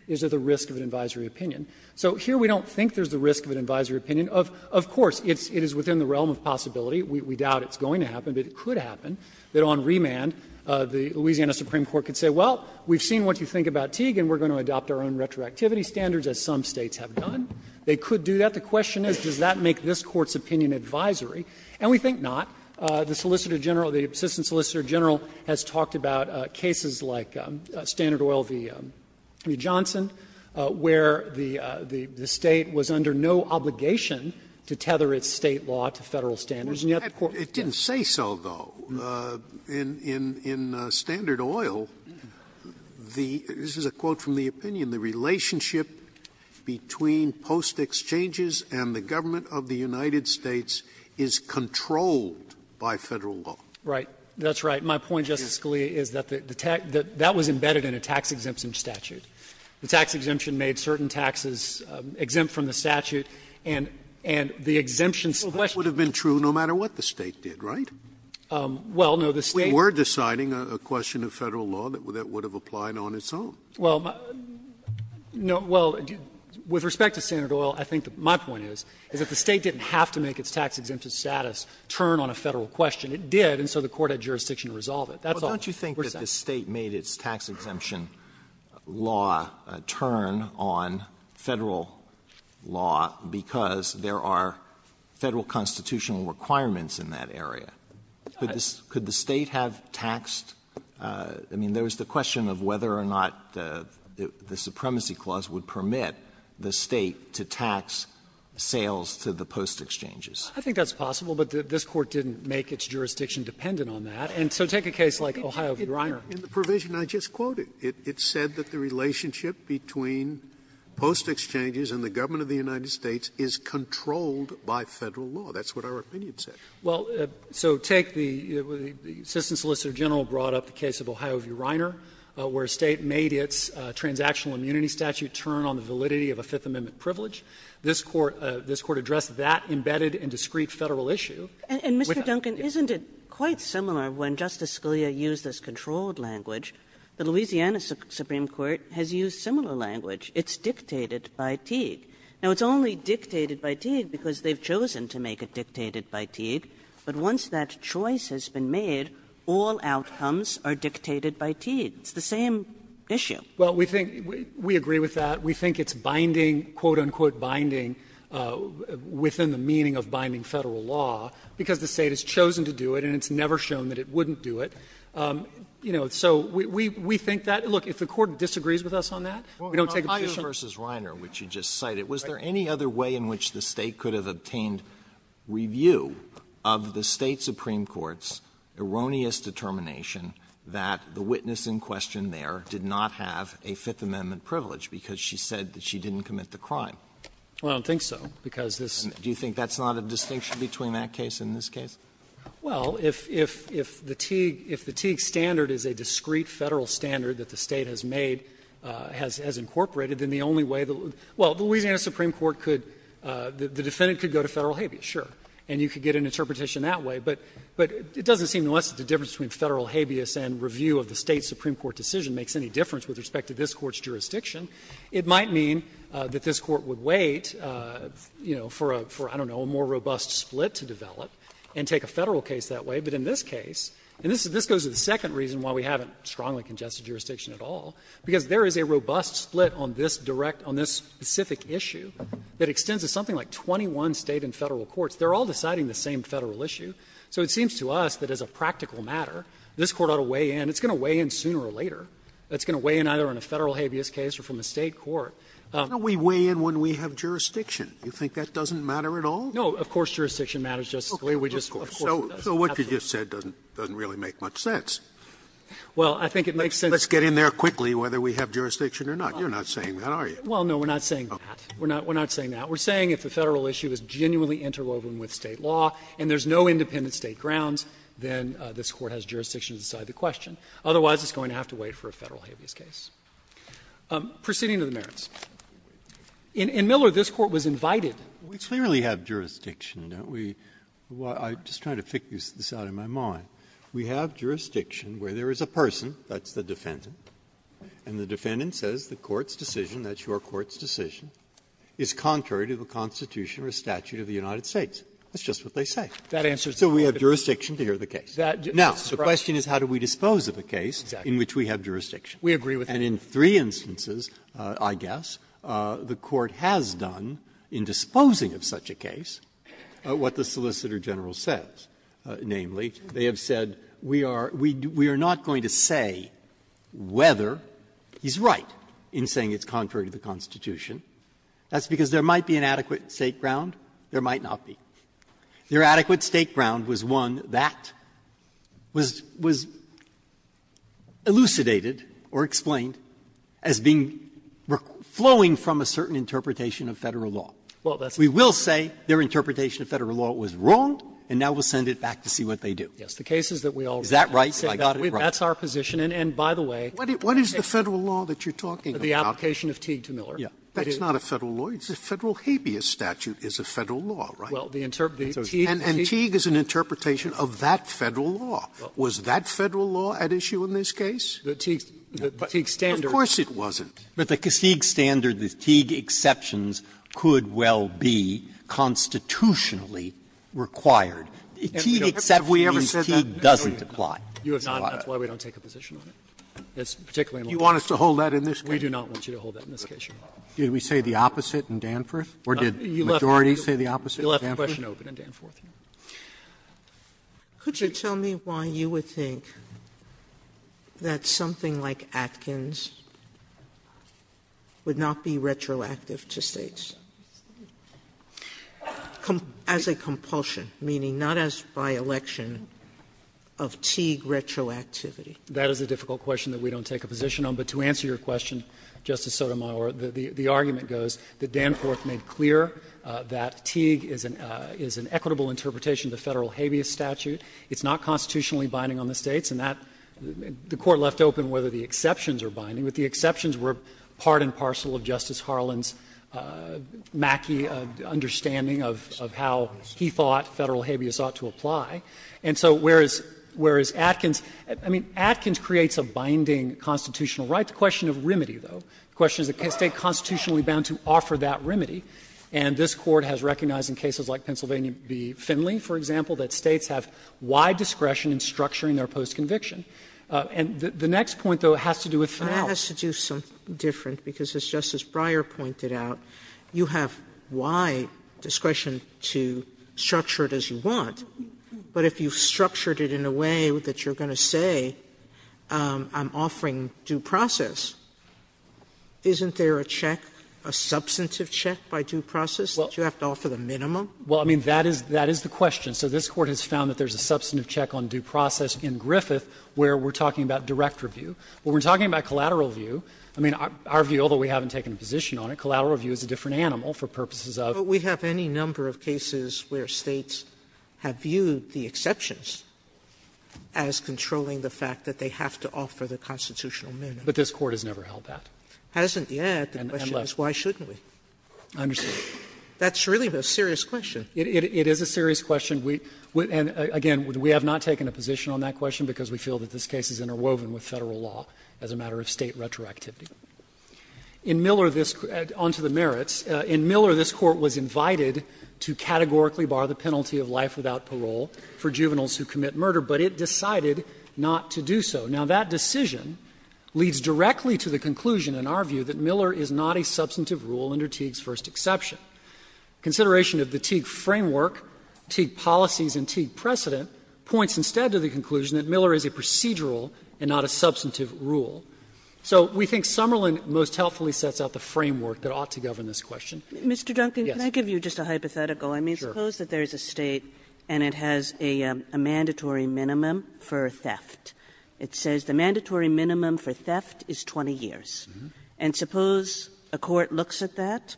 is there the risk of an advisory opinion. So here we don't think there's the risk of an advisory opinion. Of course, it is within the realm of possibility. We doubt it's going to happen, but it could happen, that on remand the Louisiana Supreme Court could say, well, we've seen what you think about Teague, and we're going to adopt our own retroactivity standards, as some states have done. They could do that. The question is, does that make this Court's opinion advisory? And we think not. The Solicitor General, the Assistant Solicitor General, has talked about cases like Standard Oil v. Johnson, where the state was under no obligation to tether its state law to federal standards, and yet the Court didn't. I would say so, though. In Standard Oil, this is a quote from the opinion, the relationship between post-exchanges and the government of the United States is controlled by federal law. Right. That's right. My point, Justice Scalia, is that that was embedded in a tax-exemption statute. and the exemption sequestered them. That would have been true no matter what the state did, right? Well, no, the state — We're deciding a question of federal law that would have applied on its own. Well, with respect to Standard Oil, I think my point is that the state didn't have to make its tax-exemption status turn on a federal question. It did, and so the Court had jurisdiction to resolve it. Well, don't you think that the state made its tax-exemption law turn on federal law because there are federal constitutional requirements in that area? Could the state have taxed — I mean, there was the question of whether or not the supremacy clause would permit the state to tax sales to the post-exchanges. I think that's possible, but this Court didn't make its jurisdiction dependent on that, and so take a case like Ohio grinder. In the provision I just quoted, it said that the relationship between post-exchanges and the government of the United States is controlled by federal law. That's what our opinion said. Well, so take the — the Assistant Solicitor General brought up the case of Ohio v. Reiner, where a state made its transactional immunity statute turn on the validity of a Fifth Amendment privilege. This Court addressed that embedded and discrete federal issue. And, Mr. Duncan, isn't it quite similar when Justice Scalia used this controlled language, the Louisiana Supreme Court has used similar language? It's dictated by Teague. Now, it's only dictated by Teague because they've chosen to make it dictated by Teague, but once that choice has been made, all outcomes are dictated by Teague. It's the same issue. Well, we think — we agree with that. We think it's binding, quote, unquote, binding within the meaning of binding federal law because the state has chosen to do it, and it's never shown that it wouldn't do it. You know, so we think that — look, if the Court disagrees with us on that, we don't take the — Well, on Ohio v. Reiner, which you just cited, was there any other way in which the State could have obtained review of the State Supreme Court's erroneous determination that the witness in question there did not have a Fifth Amendment privilege because she said that she didn't commit the crime? I don't think so, because this — Do you think that's not a distinction between that case and this case? Well, if — if the Teague — if the Teague standard is a discrete Federal standard that the State has made — has incorporated, then the only way — well, the Louisiana Supreme Court could — the defendant could go to federal habeas, sure, and you could get an interpretation that way, but it doesn't seem unless the difference between federal habeas and review of the State Supreme Court decision makes any difference with respect to this Court's jurisdiction, it might mean that this Court would wait, you know, for a — for, you know, a federal case that way. But in this case, and this goes to the second reason why we haven't strongly congested jurisdiction at all, because there is a robust split on this direct — on this specific issue that extends to something like 21 State and Federal courts. They're all deciding the same Federal issue. So it seems to us that as a practical matter, this Court ought to weigh in. It's going to weigh in sooner or later. It's going to weigh in either on a Federal habeas case or from a State court. Now, we weigh in when we have jurisdiction. You think that doesn't matter at all? No. Of course jurisdiction matters, Justice Scalia. Of course. So what you just said doesn't really make much sense. Well, I think it makes sense — Let's get in there quickly whether we have jurisdiction or not. You're not saying that, are you? Well, no, we're not saying that. We're not saying that. We're saying if the Federal issue is genuinely interwoven with State law and there's no independent State grounds, then this Court has jurisdiction to decide the question. Otherwise, it's going to have to wait for a Federal habeas case. Proceeding to the merits. In Miller, this Court was invited — We clearly have jurisdiction, don't we? I'm just trying to figure this out in my mind. We have jurisdiction where there is a person, that's the defendant, and the defendant says the Court's decision, that's your Court's decision, is contrary to the Constitution or statute of the United States. That's just what they say. So we have jurisdiction to hear the case. Now, the question is how do we dispose of a case in which we have jurisdiction? We agree with that. And in three instances, I guess, the Court has done, in disposing of such a case, what the Solicitor General says. Namely, they have said, we are not going to say whether he's right in saying it's contrary to the Constitution. That's because there might be an adequate State ground, there might not be. Their adequate State ground was one that was elucidated or explained as being, flowing from a certain interpretation of Federal law. We will say their interpretation of Federal law was wrong, and now we'll send it back to see what they do. Is that right? That's our position. And by the way, What is the Federal law that you're talking about? The application of Teague to Miller. That's not a Federal law. The Federal habeas statute is a Federal law, right? And Teague is an interpretation of that Federal law. Was that Federal law at issue in this case? The Teague standard. Of course it wasn't. But the Teague standard, the Teague exceptions could well be constitutionally required. Teague doesn't apply. That's why we don't take a position on it. You want us to hold that in this case? We do not want you to hold that in this case. Did we say the opposite in Danforth? Or did the majority say the opposite in Danforth? You left the question open in Danforth. Could you tell me why you would think that something like Atkins would not be retroactive to states? As a compulsion, meaning not as by election, of Teague retroactivity. That is a difficult question that we don't take a position on. But to answer your question, Justice Sotomayor, the argument goes that Danforth made clear that Teague is an equitable interpretation of the Federal habeas statute. It's not constitutionally binding on the states. And that the Court left open whether the exceptions are binding. But the exceptions were part and parcel of Justice Harlan's macky understanding of how he thought Federal habeas ought to apply. And so whereas Atkins, I mean, Atkins creates a binding constitutional right. The question of remedy, though. The question is, is the State constitutionally bound to offer that remedy? And this Court has recognized in cases like Pennsylvania v. Finley, for example, that states have wide discretion in structuring their post-conviction. And the next point, though, has to do with how. That has to do something different. Because as Justice Breyer pointed out, you have wide discretion to structure it as you want. But if you've structured it in a way that you're going to say, I'm offering due process, isn't there a check, a substantive check by due process that you have to offer the minimum? Well, I mean, that is the question. So this Court has found that there's a substantive check on due process in Griffith where we're talking about direct review. When we're talking about collateral review, I mean, our view, although we haven't taken a position on it, collateral review is a different animal for purposes of. But we have any number of cases where States have viewed the exceptions as controlling the fact that they have to offer the constitutional minimum. But this Court has never held that. It hasn't yet. The question is, why shouldn't we? I understand. That's really a serious question. It is a serious question. And again, we have not taken a position on that question because we feel that this case is interwoven with Federal law as a matter of State retroactivity. In Miller, this – on to the merits. In Miller, this Court was invited to categorically bar the penalty of life without parole for juveniles who commit murder, but it decided not to do so. Now, that decision leads directly to the conclusion in our view that Miller is not a substantive rule under Teague's first exception. Consideration of the Teague framework, Teague policies, and Teague precedent points instead to the conclusion that Miller is a procedural and not a substantive rule. So we think Summerlin most helpfully sets out the framework that ought to govern this question. Mr. Duncan, can I give you just a hypothetical? Sure. I mean, suppose that there's a State and it has a mandatory minimum for theft. It says the mandatory minimum for theft is 20 years. And suppose a court looks at that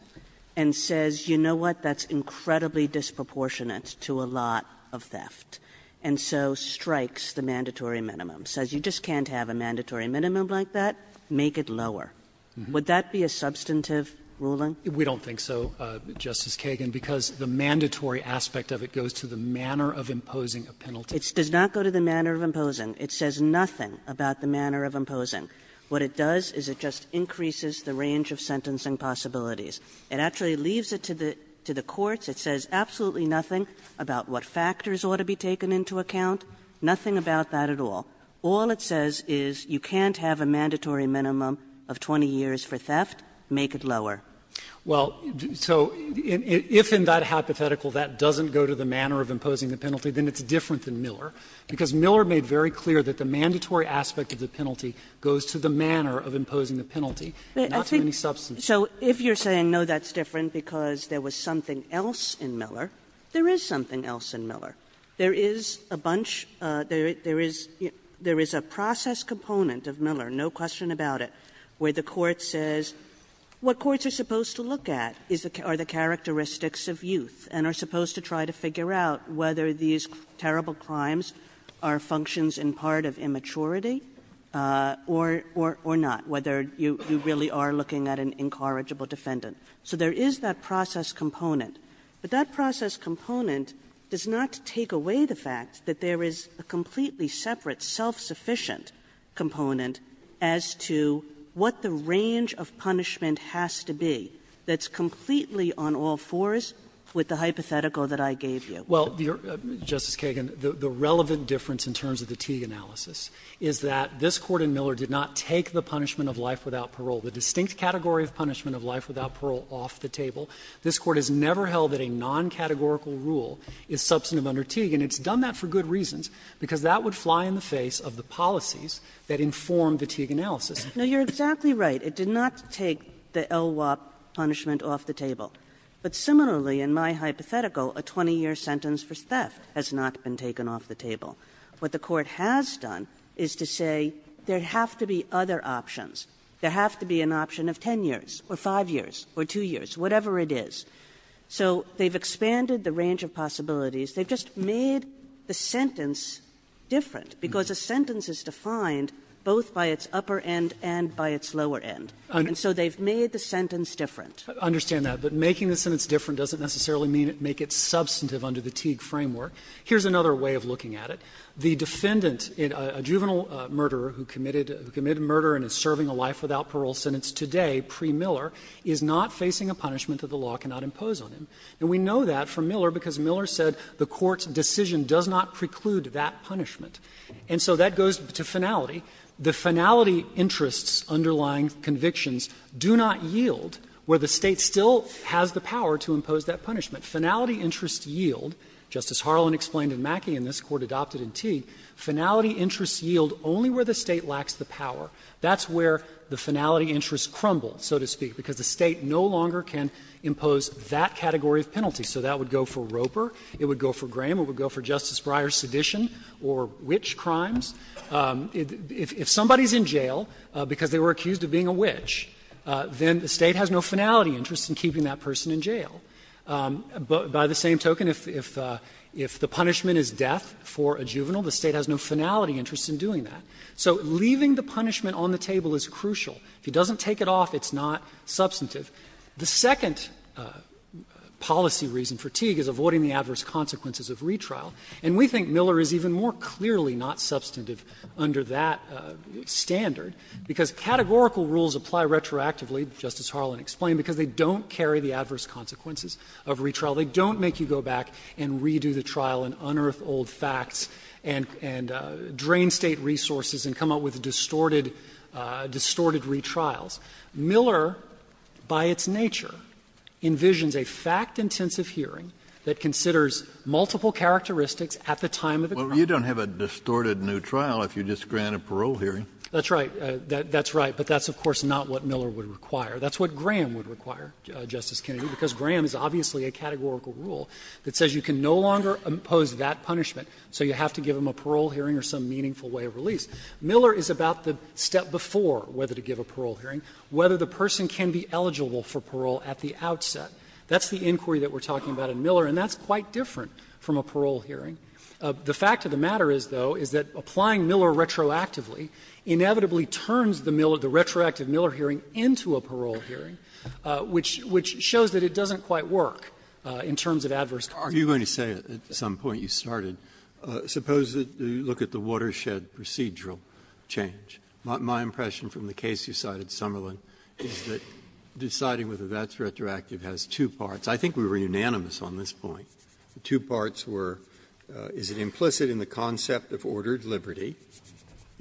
and says, you know what, that's incredibly disproportionate to a lot of theft. And so strikes the mandatory minimum, says you just can't have a mandatory minimum like that, make it lower. Would that be a substantive ruling? We don't think so, Justice Kagan, because the mandatory aspect of it goes to the manner of imposing a penalty. It does not go to the manner of imposing. It says nothing about the manner of imposing. What it does is it just increases the range of sentencing possibilities. It actually leaves it to the courts. It says absolutely nothing about what factors ought to be taken into account, nothing about that at all. All it says is you can't have a mandatory minimum of 20 years for theft, make it lower. Well, so if in that hypothetical that doesn't go to the manner of imposing the penalty, then I'd have to say no, because Miller made very clear that the mandatory aspect of the penalty goes to the manner of imposing the penalty, not to any substantive. So if you're saying no, that's different, because there was something else in Miller, there is something else in Miller. There is a bunch, there is a process component of Miller, no question about it, where the court says what courts are supposed to look at are the characteristics of youth and are supposed to try to figure out whether these terrible crimes are functions in part of immaturity or not, whether you really are looking at an incorrigible defendant. So there is that process component. But that process component does not take away the fact that there is a completely separate self-sufficient component as to what the range of punishment has to be that's completely on all fours with the hypothetical that I gave you. Well, Justice Kagan, the relevant difference in terms of the Teague analysis is that this Court in Miller did not take the punishment of life without parole, the distinct category of punishment of life without parole, off the table. This Court has never held that a non-categorical rule is substantive under Teague, and it's done that for good reasons, because that would fly in the face of the policies that informed the Teague analysis. No, you're exactly right. It did not take the LWOP punishment off the table. But similarly, in my hypothetical, a 20-year sentence for death has not been taken off the table. What the Court has done is to say there have to be other options. There have to be an option of 10 years or 5 years or 2 years, whatever it is. So they've expanded the range of possibilities. They've just made the sentence different, because a sentence is defined both by its upper end and by its lower end. And so they've made the sentence different. I understand that. But making the sentence different doesn't necessarily make it substantive under the Teague framework. Here's another way of looking at it. The defendant, a juvenile murderer who committed murder and is serving a life without parole sentence today, pre-Miller, is not facing a punishment that the law cannot impose on him. And we know that from Miller, because Miller said the Court's decision does not preclude that punishment. And so that goes to finality. The finality interests underlying convictions do not yield where the State still has the power to impose that punishment. Finality interests yield, just as Harlan explained in Mackey and this Court adopted in Teague, finality interests yield only where the State lacks the power. That's where the finality interests crumble, so to speak, because the State no longer can impose that category of penalty. So that would go for Roper. It would go for Graham. It would go for Justice Breyer's sedition or which crimes. If somebody's in jail because they were accused of being a witch, then the State has no finality interest in keeping that person in jail. But by the same token, if the punishment is death for a juvenile, the State has no finality interest in doing that. So leaving the punishment on the table is crucial. If he doesn't take it off, it's not substantive. The second policy reason for Teague is avoiding the adverse consequences of retrial. And we think Miller is even more clearly not substantive under that standard because categorical rules apply retroactively, just as Harlan explained, because they don't carry the adverse consequences of retrial. They don't make you go back and redo the trial and unearth old facts and drain State resources and come up with distorted retrials. Miller, by its nature, envisions a fact-intensive hearing that considers multiple characteristics at the time of the trial. Well, you don't have a distorted new trial if you just grant a parole hearing. That's right. That's right. But that's, of course, not what Miller would require. That's what Graham would require, Justice Kennedy, because Graham is obviously a categorical rule that says you can no longer impose that punishment, so you have to give him a parole hearing or some meaningful way of release. Miller is about the step before whether to give a parole hearing, whether the person can be eligible for parole at the outset. That's the inquiry that we're talking about in Miller. And that's quite different from a parole hearing. The fact of the matter is, though, is that applying Miller retroactively inevitably turns the retroactive Miller hearing into a parole hearing, which shows that it doesn't quite work in terms of adverse consequences. Are you going to say at some point you started, suppose that you look at the watershed procedural change. My impression from the case you cited, Summerlin, is that deciding whether that's retroactive has two parts. I think we were unanimous on this point. Two parts were, is it implicit in the concept of ordered liberty?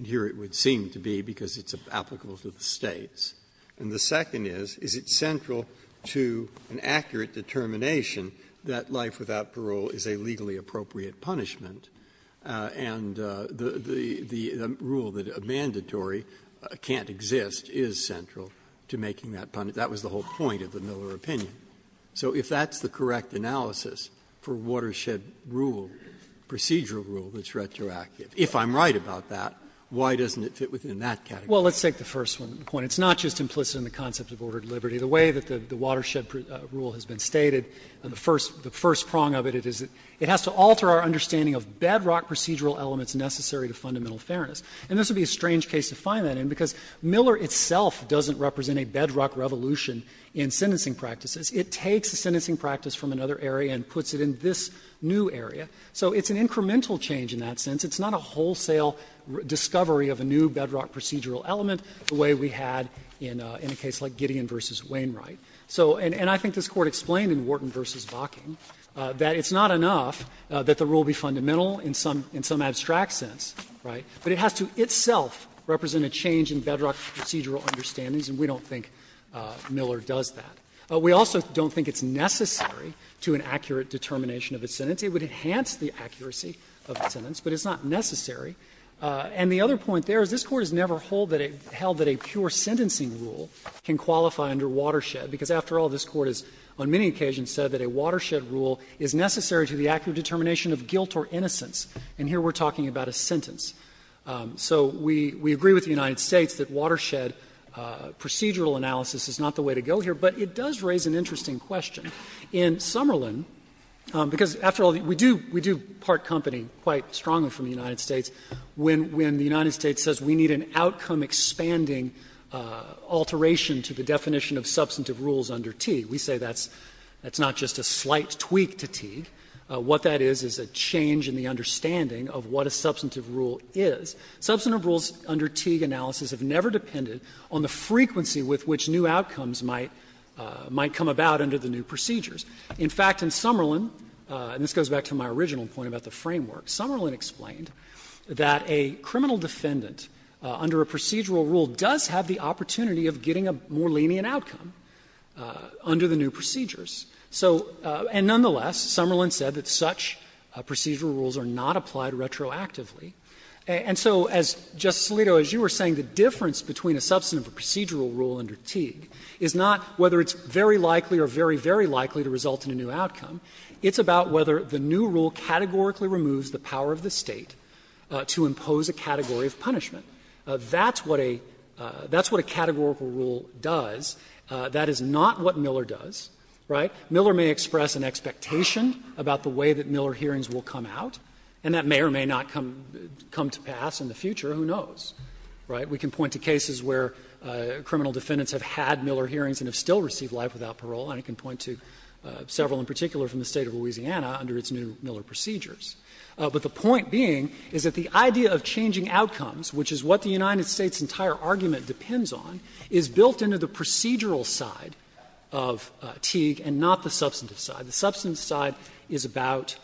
Here it would seem to be because it's applicable to the states. And the second is, is it central to an accurate determination that life without parole is a legally appropriate punishment? And the rule that a mandatory can't exist is central to making that punishment. That was the whole point of the Miller opinion. So if that's the correct analysis for watershed rule, procedural rule that's retroactive, if I'm right about that, why doesn't it fit within that category? Well, let's take the first one. It's not just implicit in the concept of ordered liberty. The way that the watershed rule has been stated, the first prong of it is it has to alter our understanding of bedrock procedural elements necessary to fundamental fairness. And this would be a strange case to find that in because Miller itself doesn't represent a bedrock revolution in sentencing practices. It takes the sentencing practice from another area and puts it in this new area. So it's an incremental change in that sense. It's not a wholesale discovery of a new bedrock procedural element the way we had in a case like Gideon v. Wainwright. And I think this Court explained in Wharton v. Bocking that it's not enough that the rule be fundamental in some abstract sense, right, but it has to itself represent a change in bedrock procedural understandings, and we don't think Miller does that. We also don't think it's necessary to an accurate determination of its sentencing. It would enhance the accuracy of the sentence, but it's not necessary. And the other point there is this Court has never held that a pure sentencing rule can qualify under watershed because, after all, this Court has on many occasions said that a watershed rule is necessary to the accurate determination of guilt or innocence. And here we're talking about a sentence. So we agree with the United States that watershed procedural analysis is not the way to go here, but it does raise an interesting question in Summerlin because, after all, we do part company quite strongly from the United States when the United States says we need an outcome-expanding alteration to the definition of substantive rules under Teague. We say that's not just a slight tweak to Teague. What that is is a change in the understanding of what a substantive rule is. Substantive rules under Teague analysis have never depended on the frequency with which new outcomes might come about under the new procedures. In fact, in Summerlin, and this goes back to my original point about the framework, Summerlin explained that a criminal defendant under a procedural rule does have the opportunity of getting a more lenient outcome under the new procedures. So, and nonetheless, Summerlin said that such procedural rules are not applied retroactively. And so, as Justice Alito, as you were saying, the difference between a substantive or procedural rule under Teague is not whether it's very likely or very, very likely to result in a new outcome. It's about whether the new rule categorically removes the power of the State to impose a category of punishment. That's what a categorical rule does. That is not what Miller does. Right? Miller may express an expectation about the way that Miller hearings will come out, and that may or may not come to pass in the future. Who knows? Right? We can point to cases where criminal defendants have had Miller hearings and have still received life without parole, and I can point to several in particular from the State of Louisiana under its new Miller procedures. But the point being is that the idea of changing outcomes, which is what the United States' entire argument depends on, is built into the procedural side of Teague and not the substantive side. So the substantive side is about...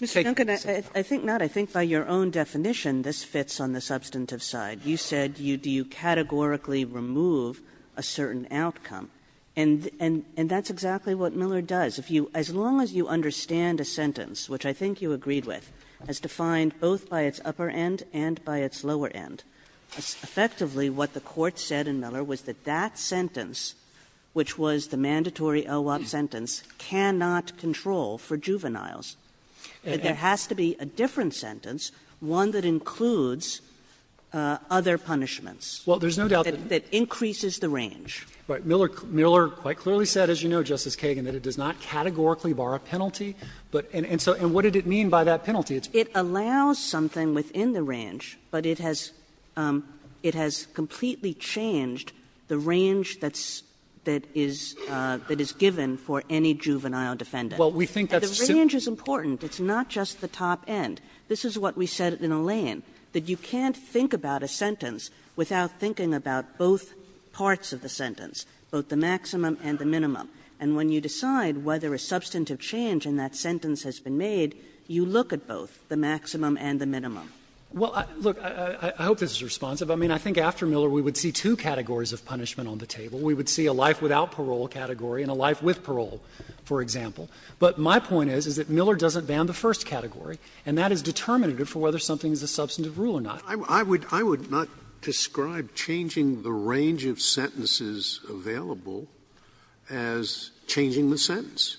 Kagan. I think not. I think by your own definition, this fits on the substantive side. You said you categorically remove a certain outcome. And that's exactly what Miller does. As long as you understand a sentence, which I think you agreed with, as defined both by its upper end and by its lower end, effectively what the Court said in Miller was that that sentence cannot control for juveniles, that there has to be a different sentence, one that includes other punishments... Well, there's no doubt that... ...that increases the range. Right. Miller quite clearly said, as you know, Justice Kagan, that it does not categorically bar a penalty. And what did it mean by that penalty? It allows something within the range, but it has completely changed the range that is given for any juvenile defendant. Well, we think that's... And the range is important. It's not just the top end. This is what we said in Allain, that you can't think about a sentence without thinking about both parts of the sentence, both the maximum and the minimum. And when you decide whether a substantive change in that sentence has been made, you look at both, the maximum and the minimum. Well, look, I hope this is responsive. I mean, I think after Miller we would see two categories of punishment on the table. We would see a life without parole category and a life with parole, for example. But my point is, is that Miller doesn't ban the first category, and that is determinative for whether something is a substantive rule or not. I would not describe changing the range of sentences available as changing the sentence.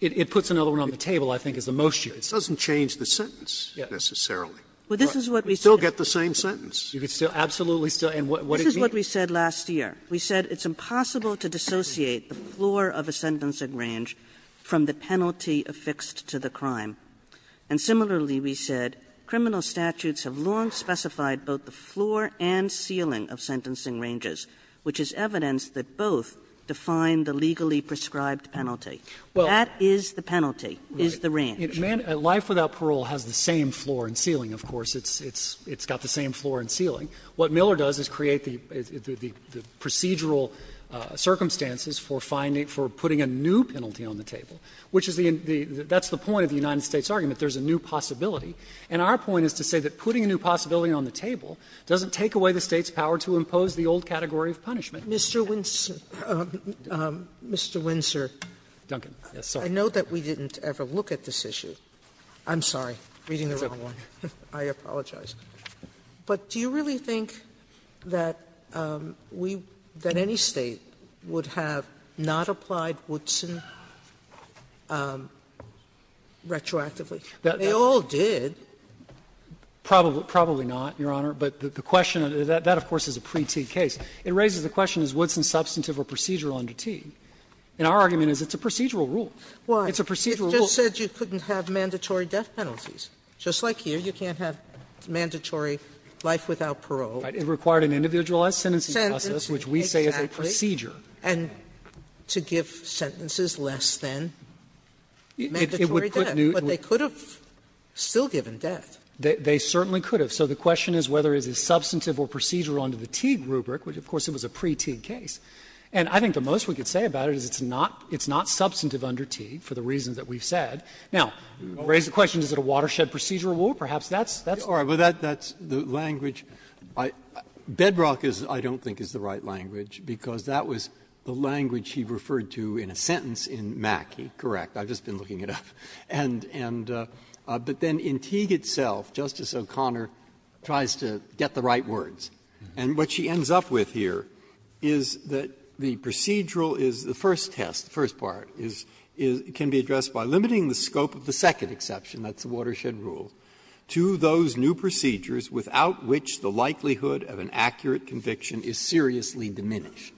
It puts another one on the table, I think, as the most use. It doesn't change the sentence necessarily. Yes. But this is what we said... You still get the same sentence. You can still absolutely still... This is what we said last year. We said it's impossible to dissociate the floor of a sentencing range from the penalty affixed to the crime. And similarly, we said criminal statutes have long specified both the floor and ceiling of sentencing ranges, which is evidence that both define the legally prescribed penalty. That is the penalty, is the range. Life without parole has the same floor and ceiling, of course. It's got the same floor and ceiling. What Miller does is create the procedural circumstances for putting a new penalty on the table, which is the point of the United States argument. There's a new possibility. And our point is to say that putting a new possibility on the table doesn't take away the State's power to impose the old category of punishment. Mr. Winsor, I know that we didn't ever look at this issue. I'm sorry. Reading the wrong one. I apologize. But do you really think that any State would have not applied Woodson retroactively? They all did. Probably not, Your Honor. But that, of course, is a pre-T case. It raises the question, is Woodson substantive or procedural under T? And our argument is it's a procedural rule. It's a procedural rule. It just said you couldn't have mandatory death penalties. Just like here, you can't have mandatory life without parole. It required an individualized sentencing process, which we say is a procedure. And to give sentences less than mandatory death. But they could have still given death. They certainly could have. So the question is whether it is substantive or procedural under the Teague rubric, which, of course, it was a pre-Teague case. And I think the most we can say about it is it's not substantive under Teague, for the reasons that we've said. Now, raise the question, is it a watershed procedural rule? Perhaps that's all. Well, that's the language. Bedrock, I don't think, is the right language, because that was the language he referred to in a sentence in Mackey. Correct. I've just been looking it up. But then in Teague itself, Justice O'Connor tries to get the right words. And what she ends up with here is that the procedural is the first test, the first part can be addressed by limiting the scope of the second exception, that's the watershed rule, to those new procedures without which the likelihood of an accurate conviction is seriously diminished.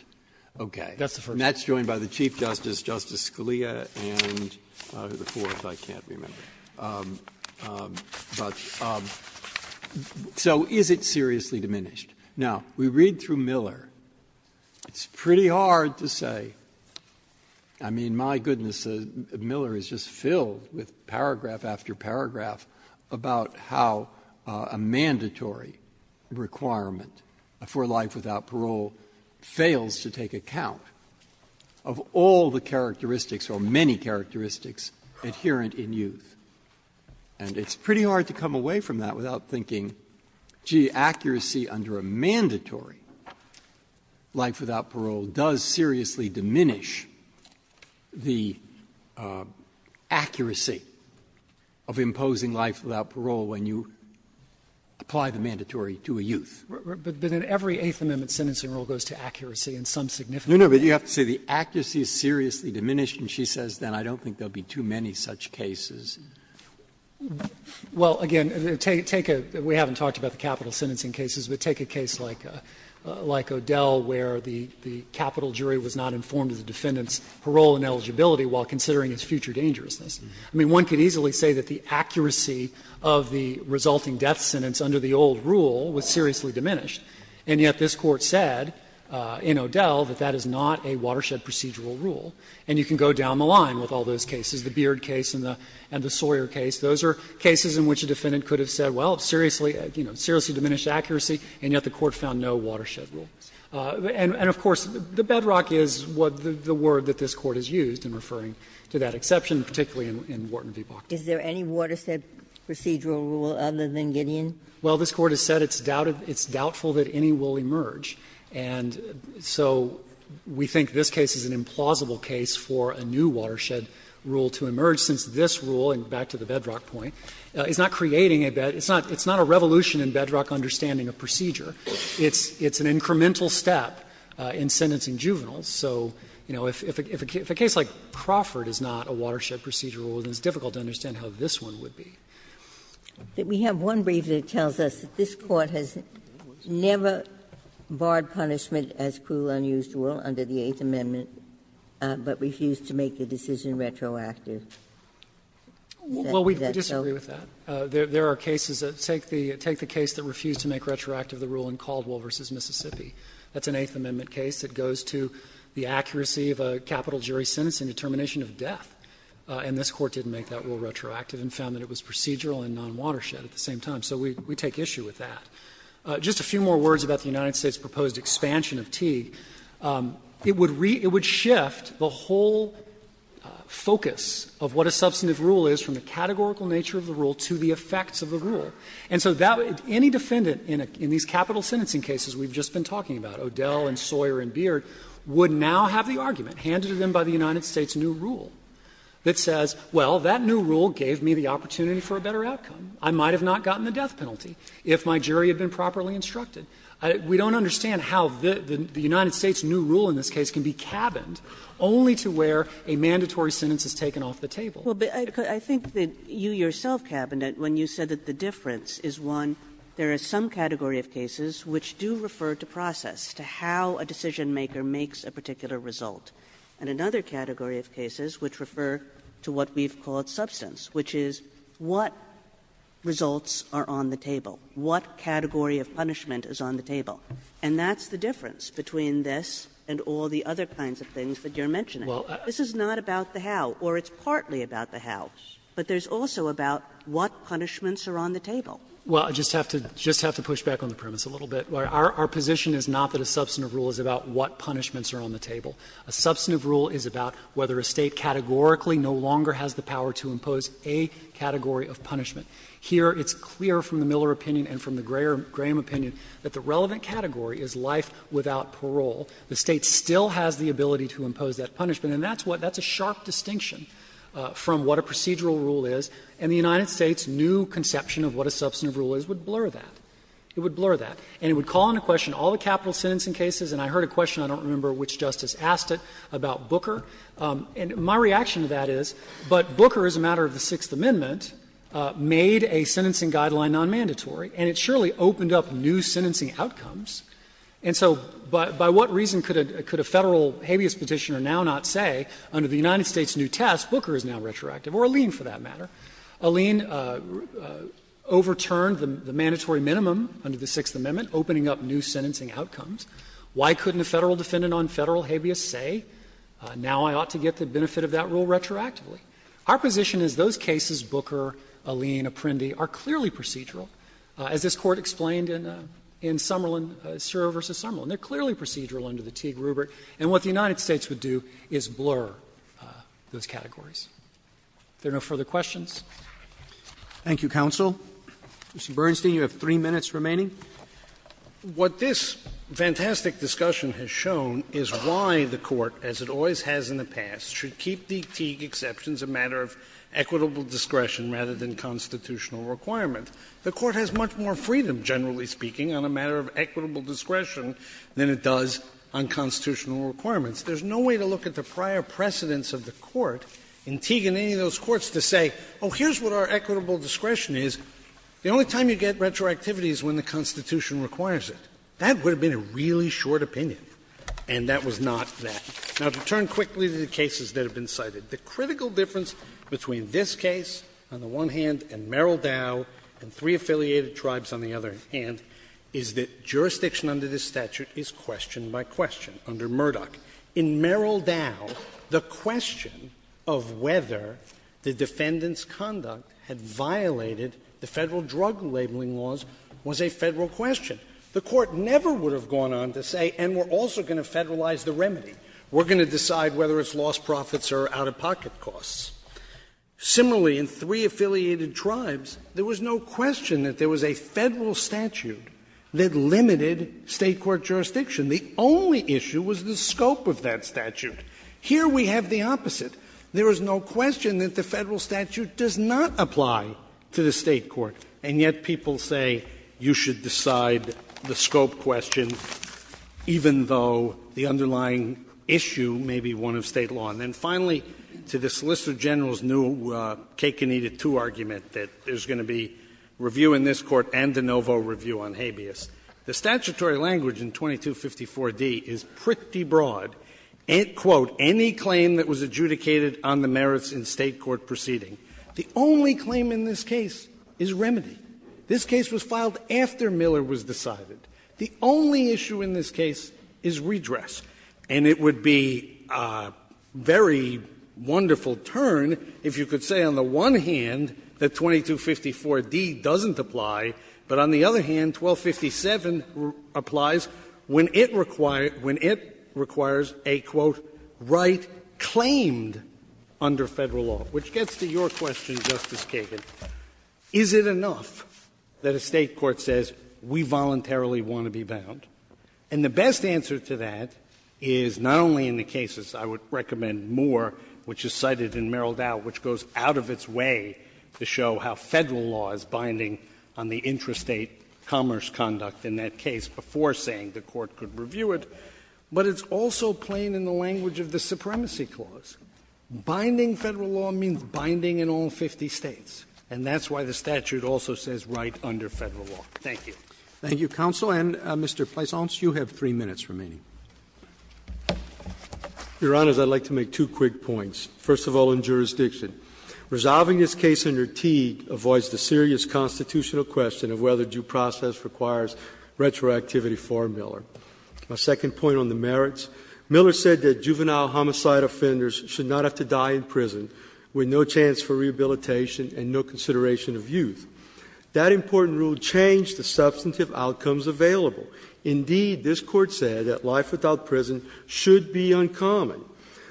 Okay. And that's joined by the Chief Justice, Justice Scalia, and the courts. I can't remember. So is it seriously diminished? Now, we read through Miller. It's pretty hard to say. I mean, my goodness, Miller is just filled with paragraph after paragraph about how a mandatory requirement for life without parole fails to take account of all the characteristics or many characteristics inherent in youth. And it's pretty hard to come away from that without thinking, gee, accuracy under a mandatory life without parole does seriously diminish the accuracy of imposing life without parole when you apply the mandatory to a youth. But in every Eighth Amendment sentencing rule goes to accuracy in some significant way. No, no, but you have to say the accuracy is seriously diminished. And she says, then, I don't think there will be too many such cases. Well, again, we haven't talked about the capital sentencing cases, but take a case like O'Dell where the capital jury was not informed of the defendant's parole and eligibility while considering its future dangerousness. I mean, one could easily say that the accuracy of the resulting death sentence under the old rule was seriously diminished. And yet this court said in O'Dell that that is not a watershed procedural rule. And you can go down the line with all those cases, the Beard case and the Sawyer case. Those are cases in which a defendant could have said, well, seriously, you know, seriously diminished accuracy, and yet the court found no watershed rule. And, of course, the bedrock is what the word that this court has used in referring to that exception, particularly in Wharton v. Barclay. Is there any watershed procedural rule other than Gideon? Well, this court has said it's doubtful that any will emerge. And so we think this case is an implausible case for a new watershed rule to emerge since this rule, and back to the bedrock point, is not creating a bedrock – it's not a revolution in bedrock understanding of procedure. It's an incremental step in sentencing juveniles. So, you know, if a case like Crawford is not a watershed procedural rule, then it's difficult to understand how this one would be. We have one brief that tells us that this court has never barred punishment as cruel, unusual under the Eighth Amendment, but refused to make the decision retroactive. Well, we disagree with that. There are cases that take the case that refused to make retroactive the rule in Caldwell v. Mississippi. That's an Eighth Amendment case that goes to the accuracy of a capital jury sentence and determination of death, and this court didn't make that rule retroactive and found that it was procedural and non-watershed at the same time. So we take issue with that. Just a few more words about the United States' proposed expansion of Teague. It would shift the whole focus of what a substantive rule is from the categorical nature of a rule to the effects of a rule. And so any defendant in these capital sentencing cases we've just been talking about, O'Dell and Sawyer and Beard, would now have the argument handed to them by the United States' new rule that says, well, that new rule gave me the opportunity for a better outcome. I might have not gotten the death penalty if my jury had been properly instructed. We don't understand how the United States' new rule in this case can be cabined only to where a mandatory sentence is taken off the table. Well, I think that you yourself cabined it when you said that the difference is, one, there is some category of cases which do refer to process, to how a decision-maker makes a particular result. And another category of cases which refer to what we've called substance, which is what results are on the table, what category of punishment is on the table. And that's the difference between this and all the other kinds of things that you're mentioning. This is not about the how, or it's partly about the how. But there's also about what punishments are on the table. Well, I just have to push back on the premise a little bit. Our position is not that a substantive rule is about what punishments are on the table. A substantive rule is about whether a State categorically no longer has the power to impose a category of punishment. Here it's clear from the Miller opinion and from the Graham opinion that the relevant category is life without parole. The State still has the ability to impose that punishment. And that's what — that's a sharp distinction from what a procedural rule is. And the United States' new conception of what a substantive rule is would blur that. It would blur that. And it would call into question all the capital sentencing cases. And I heard a question, I don't remember which Justice asked it, about Booker. And my reaction to that is, but Booker as a matter of the Sixth Amendment made a sentencing guideline nonmandatory, and it surely opened up new sentencing outcomes. And so by what reason could a Federal habeas petitioner now not say under the United States' new test, Booker is now retroactive, or Alleyne for that matter? Alleyne overturned the mandatory minimum under the Sixth Amendment, opening up new sentencing outcomes. Why couldn't a Federal defendant on Federal habeas say, now I ought to get the benefit of that rule retroactively? Our position is those cases, Booker, Alleyne, Apprendi, are clearly procedural. As this Court explained in Summerlin, Sura v. Summerlin, they're clearly procedural under the Tiede-Rubert. And what the United States would do is blur those categories. If there are no further questions. Roberts. Thank you, counsel. Mr. Bernstein, you have three minutes remaining. What this fantastic discussion has shown is why the Court, as it always has in the past, should keep the Teague exceptions a matter of equitable discretion rather than constitutional requirement. The Court has much more freedom, generally speaking, on a matter of equitable discretion than it does on constitutional requirements. There's no way to look at the prior precedence of the Court in Teague and any of those courts to say, oh, here's what our equitable discretion is. The only time you get retroactivity is when the Constitution requires it. That would have been a really short opinion, and that was not that. Now, to turn quickly to the cases that have been cited. The critical difference between this case on the one hand and Merrill Dow and three affiliated tribes on the other hand is that jurisdiction under this statute is question by question under Murdoch. In Merrill Dow, the question of whether the defendant's conduct had violated the federal drug labeling laws was a federal question. The Court never would have gone on to say, and we're also going to federalize the remedy. We're going to decide whether it's lost profits or out-of-pocket costs. Similarly, in three affiliated tribes, there was no question that there was a federal statute that limited state court jurisdiction. The only issue was the scope of that statute. Here we have the opposite. There is no question that the federal statute does not apply to the state court, and yet people say you should decide the scope question even though the underlying issue may be one of state law. And then finally, to the Solicitor General's new cake-and-eat-it-too argument that there's going to be review in this Court and de novo review on habeas. The statutory language in 2254d is pretty broad. Quote, any claim that was adjudicated on the merits in state court proceeding. The only claim in this case is remedy. This case was filed after Miller was decided. The only issue in this case is redress. And it would be a very wonderful turn if you could say on the one hand that 2254d doesn't apply, but on the other hand, 1257 applies when it requires a, quote, right claimed under Federal law, which gets to your question, Justice Kagan. Is it enough that a state court says we voluntarily want to be bound? And the best answer to that is not only in the cases I would recommend Moore, which is cited in Merrill Dow, which goes out of its way to show how Federal law is binding on the intrastate commerce conduct in that case before saying the Court could review it, but it's also plain in the language of the Supremacy Clause. Binding Federal law means binding in all 50 States. And that's why the statute also says right under Federal law. Thank you. Thank you, counsel. And, Mr. Feisantz, you have 3 minutes remaining. Your Honors, I'd like to make two quick points. First of all, in jurisdiction. Resolving this case under Teague avoids the serious constitutional question of whether due process requires retroactivity for Miller. My second point on the merits. Miller said that juvenile homicide offenders should not have to die in prison with no chance for rehabilitation and no consideration of youth. That important rule changed the substantive outcomes available. Indeed, this Court said that life without prison should be uncommon.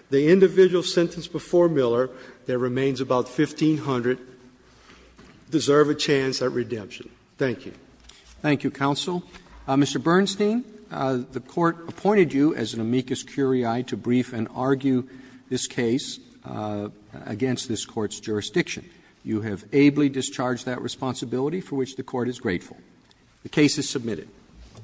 The individual sentenced before Miller that remains about 1500 deserve a chance at redemption. Thank you. Thank you, counsel. Mr. Bernstein, the Court appointed you as an amicus curiae to brief and argue this case against this Court's jurisdiction. You have ably discharged that responsibility for which the Court is grateful. The case is submitted. Thank you.